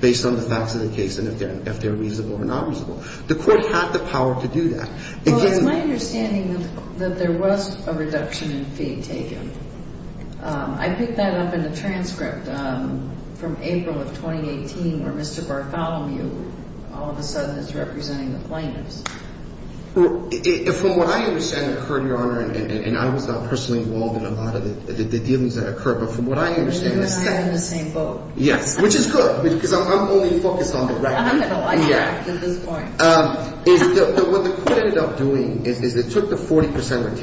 based on the facts of the case and if they're reasonable or not reasonable. The courts have the power to do that. Well, my understanding is that there was a reduction in fee taken. I picked that up in a transcript from April of 2018 where Mr. Bartholomew all of a sudden is representing the plaintiff. From what I understand, Your Honor, and I was not personally involved in a lot of the things that occurred, but from what I understand, and I understand both. Yeah, which is good, because I'm only focused on the value. I'm going to like what I can do for him. So what the court ended up doing is it took the 40%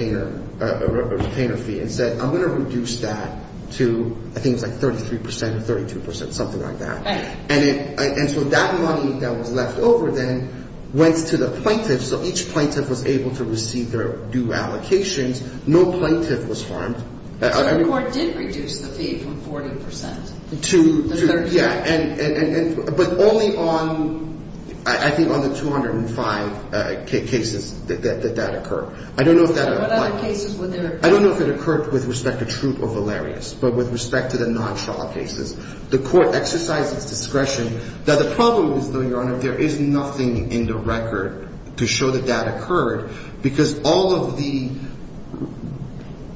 retainer fee and said, I'm going to reduce that to, I think, it's like 33%, 32%, something like that. And so that money that was left over, then, went to the plaintiff. So each plaintiff was able to receive their due allocations. No plaintiff was harmed. But the court did reduce the fee from 40%. To, yeah. But only on, I think, on the 205 cases that that occurred. I don't know if that occurred. I don't know if it occurred with respect to truth or valerious, but with respect to the non-trial cases. The court exercised its discretion. Now, the problem, Your Honor, there is nothing in the record to show that that occurred, because all of the,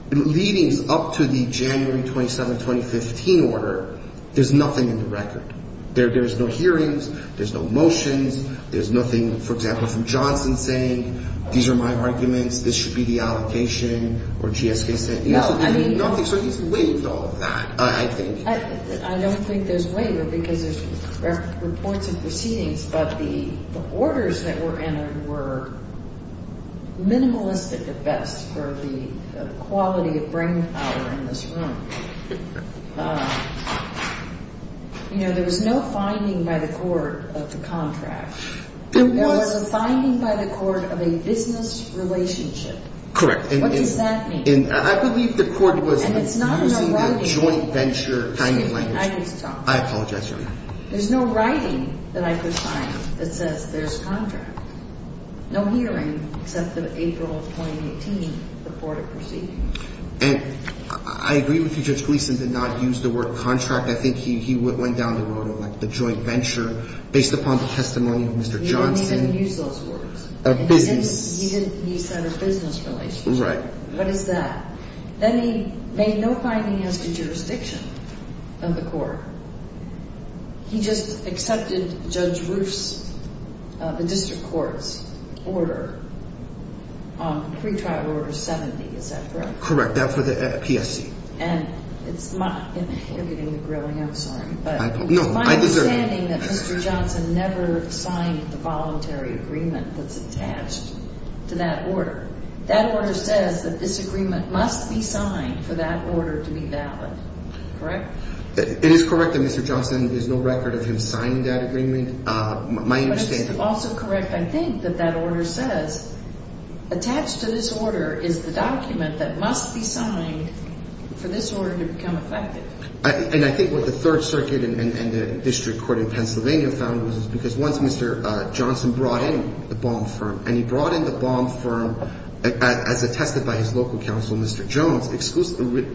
leading up to the January 27, 2015 order, there's nothing in the record. There's no hearings. There's no motions. There's nothing, for example, from Johnson saying, these are my arguments. This should be the allocation. Or GSB saying, no, there's nothing. So there's no evidence of all of that, I think. I don't think there's later, because this proceedings, but the orders that were entered were minimalistic at best for the quality of brainpower in this room. You know, there was no finding by the court of the contract. There was a finding by the court of a business relationship. Correct. What does that mean? I believe the court was using the joint venture finding. I didn't find it. I apologize for that. There's no writing that I could find that says, there's a contract. No hearings since April 2018, the court of proceedings. I agree with you. Judge Gleeson did not use the word contract. I think he went down the road on the joint venture, based upon the testimony of Mr. Johnson. He didn't use those words. Of business. He said a business relationship. Right. What is that? Then he made no finding in the jurisdiction of the court. He just accepted Judge Roost, the district court's order, pre-trial order 70. Is that correct? Correct. That was for the PSC. And it's not in the history of grilling. I'm sorry. No. My understanding is that Mr. Johnson never signed the voluntary agreement that's attached to that order. That order says that this agreement must be signed for that order to be valid. Correct? It is correct that Mr. Johnson, there's no record of him signing that agreement. My understanding. But it's also correct, I think, that that order says, attached to this order is the document that must be signed for this order to become effective. And I think what the Third Circuit and the district court in Pennsylvania found was, is because once Mr. Johnson brought in the bond firm, and he brought in the bond firm as attested by his local counsel, Mr. Jones,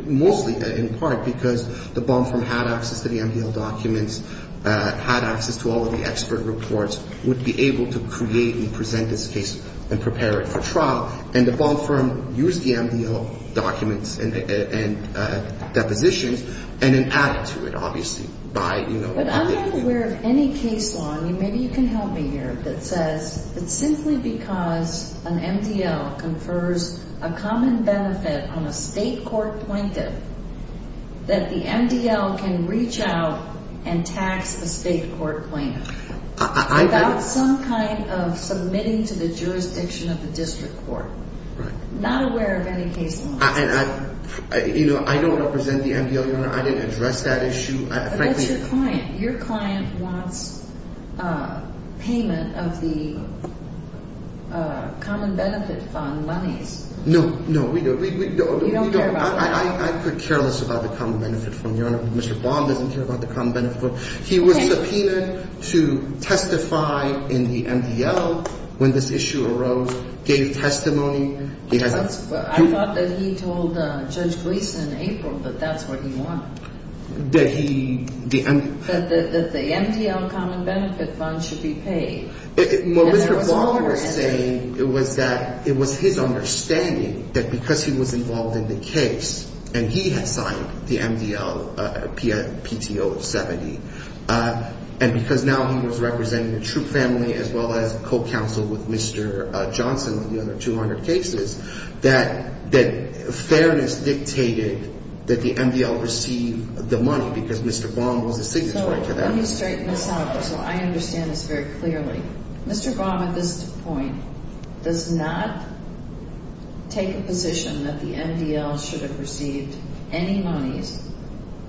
mostly in part because the bond firm had access to the MDL documents, had access to all of the expert reports, would be able to create and present this case and prepare it for trial. And the bond firm used the MDL documents and depositions and then added to it, obviously. But I'm not aware of any case law, and maybe you can help me here, that says it's simply because an MDL confers a common benefit on a state court plaintiff that the MDL can reach out and tax the state court plaintiff. That's some kind of permitting to the jurisdiction of the district court. Not aware of any case law. I don't represent the MDL. I didn't address that issue. But that's your client. The client wants payment of the common benefits on money. No, no. We don't care about that. I could care less about the common benefits. Mr. Bond didn't care about the common benefits. He was subpoenaed to testify in the MDL when this issue arose. Gave testimony. I thought that he told Judge Gleeson in April that that's what he wants. That the MDL common benefits bond should be paid. Melissa Bond was saying that it was his understanding that because he was involved in the case and he had signed the MDL PTO 70, and because now he was representing the true family as well as co-counsel with Mr. Johnson of the other 200 cases, that fairness dictated that the MDL receive the money because Mr. Bond will receive the money. Let me straighten this out so I understand this very clearly. Mr. Bond at this point does not take the position that the MDL should have received any money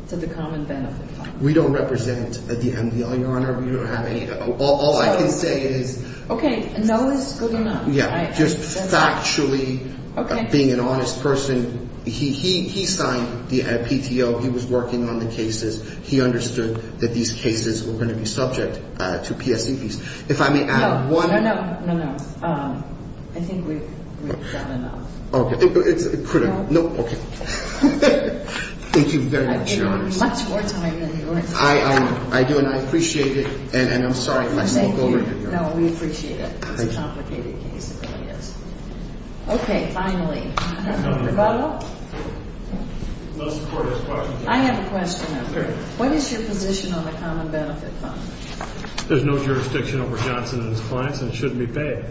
for the common benefits. We don't represent the MDL, Your Honor. We don't have any. All I can say is... Okay. No, that's good enough. Just factually, I'm being an honest person. He signed the PTO. He was working on the cases. He understood that these cases were going to be subject to PSC fees. If I may add one... No, no, no, no, no. I think we've gotten enough. Okay. No. Okay. Thank you very much, Your Honor. It's much more time than you want. I do, and I appreciate it, and I'm sorry if that's not going to be enough. No, we appreciate it. It's complicated. Okay, finally. Mr. Butler? I have a question. What is your position on the Common Benefit Fund? There's no jurisdiction over Johnson and his clients, and it shouldn't be paid.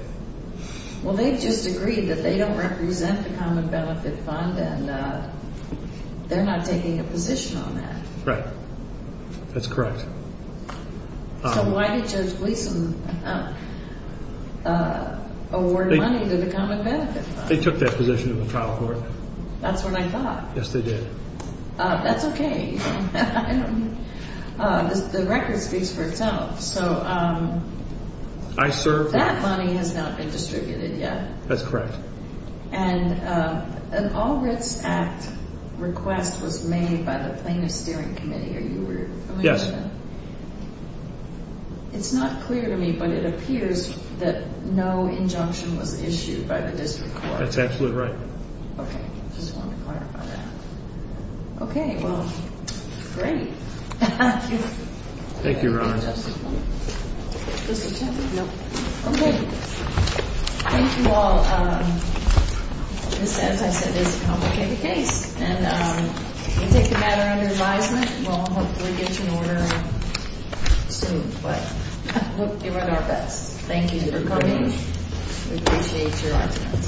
Well, they just agreed that they don't represent the Common Benefit Fund, and they're not taking a position on that. Right. That's correct. So why did you just leave them award money to the Common Benefit Fund? They took that position in the trial court. That's what I thought. Yes, they did. That's okay. The record speaks for itself. So that money has not been distributed yet. That's correct. And an All Risks Act request was made by the plaintiff's hearing committee. Are you aware of that? Yes. It's not clear to me, but it appears that no injunction was issued by the district court. That's absolutely right. Okay, I just wanted to clarify that. Okay, well, great. Thank you, Ron. Okay, thank you all. As I said, this is a complicated case, and if it's a matter of advisement, we'll get you an order soon. But I hope you had our best. Thank you for coming. We appreciate your help.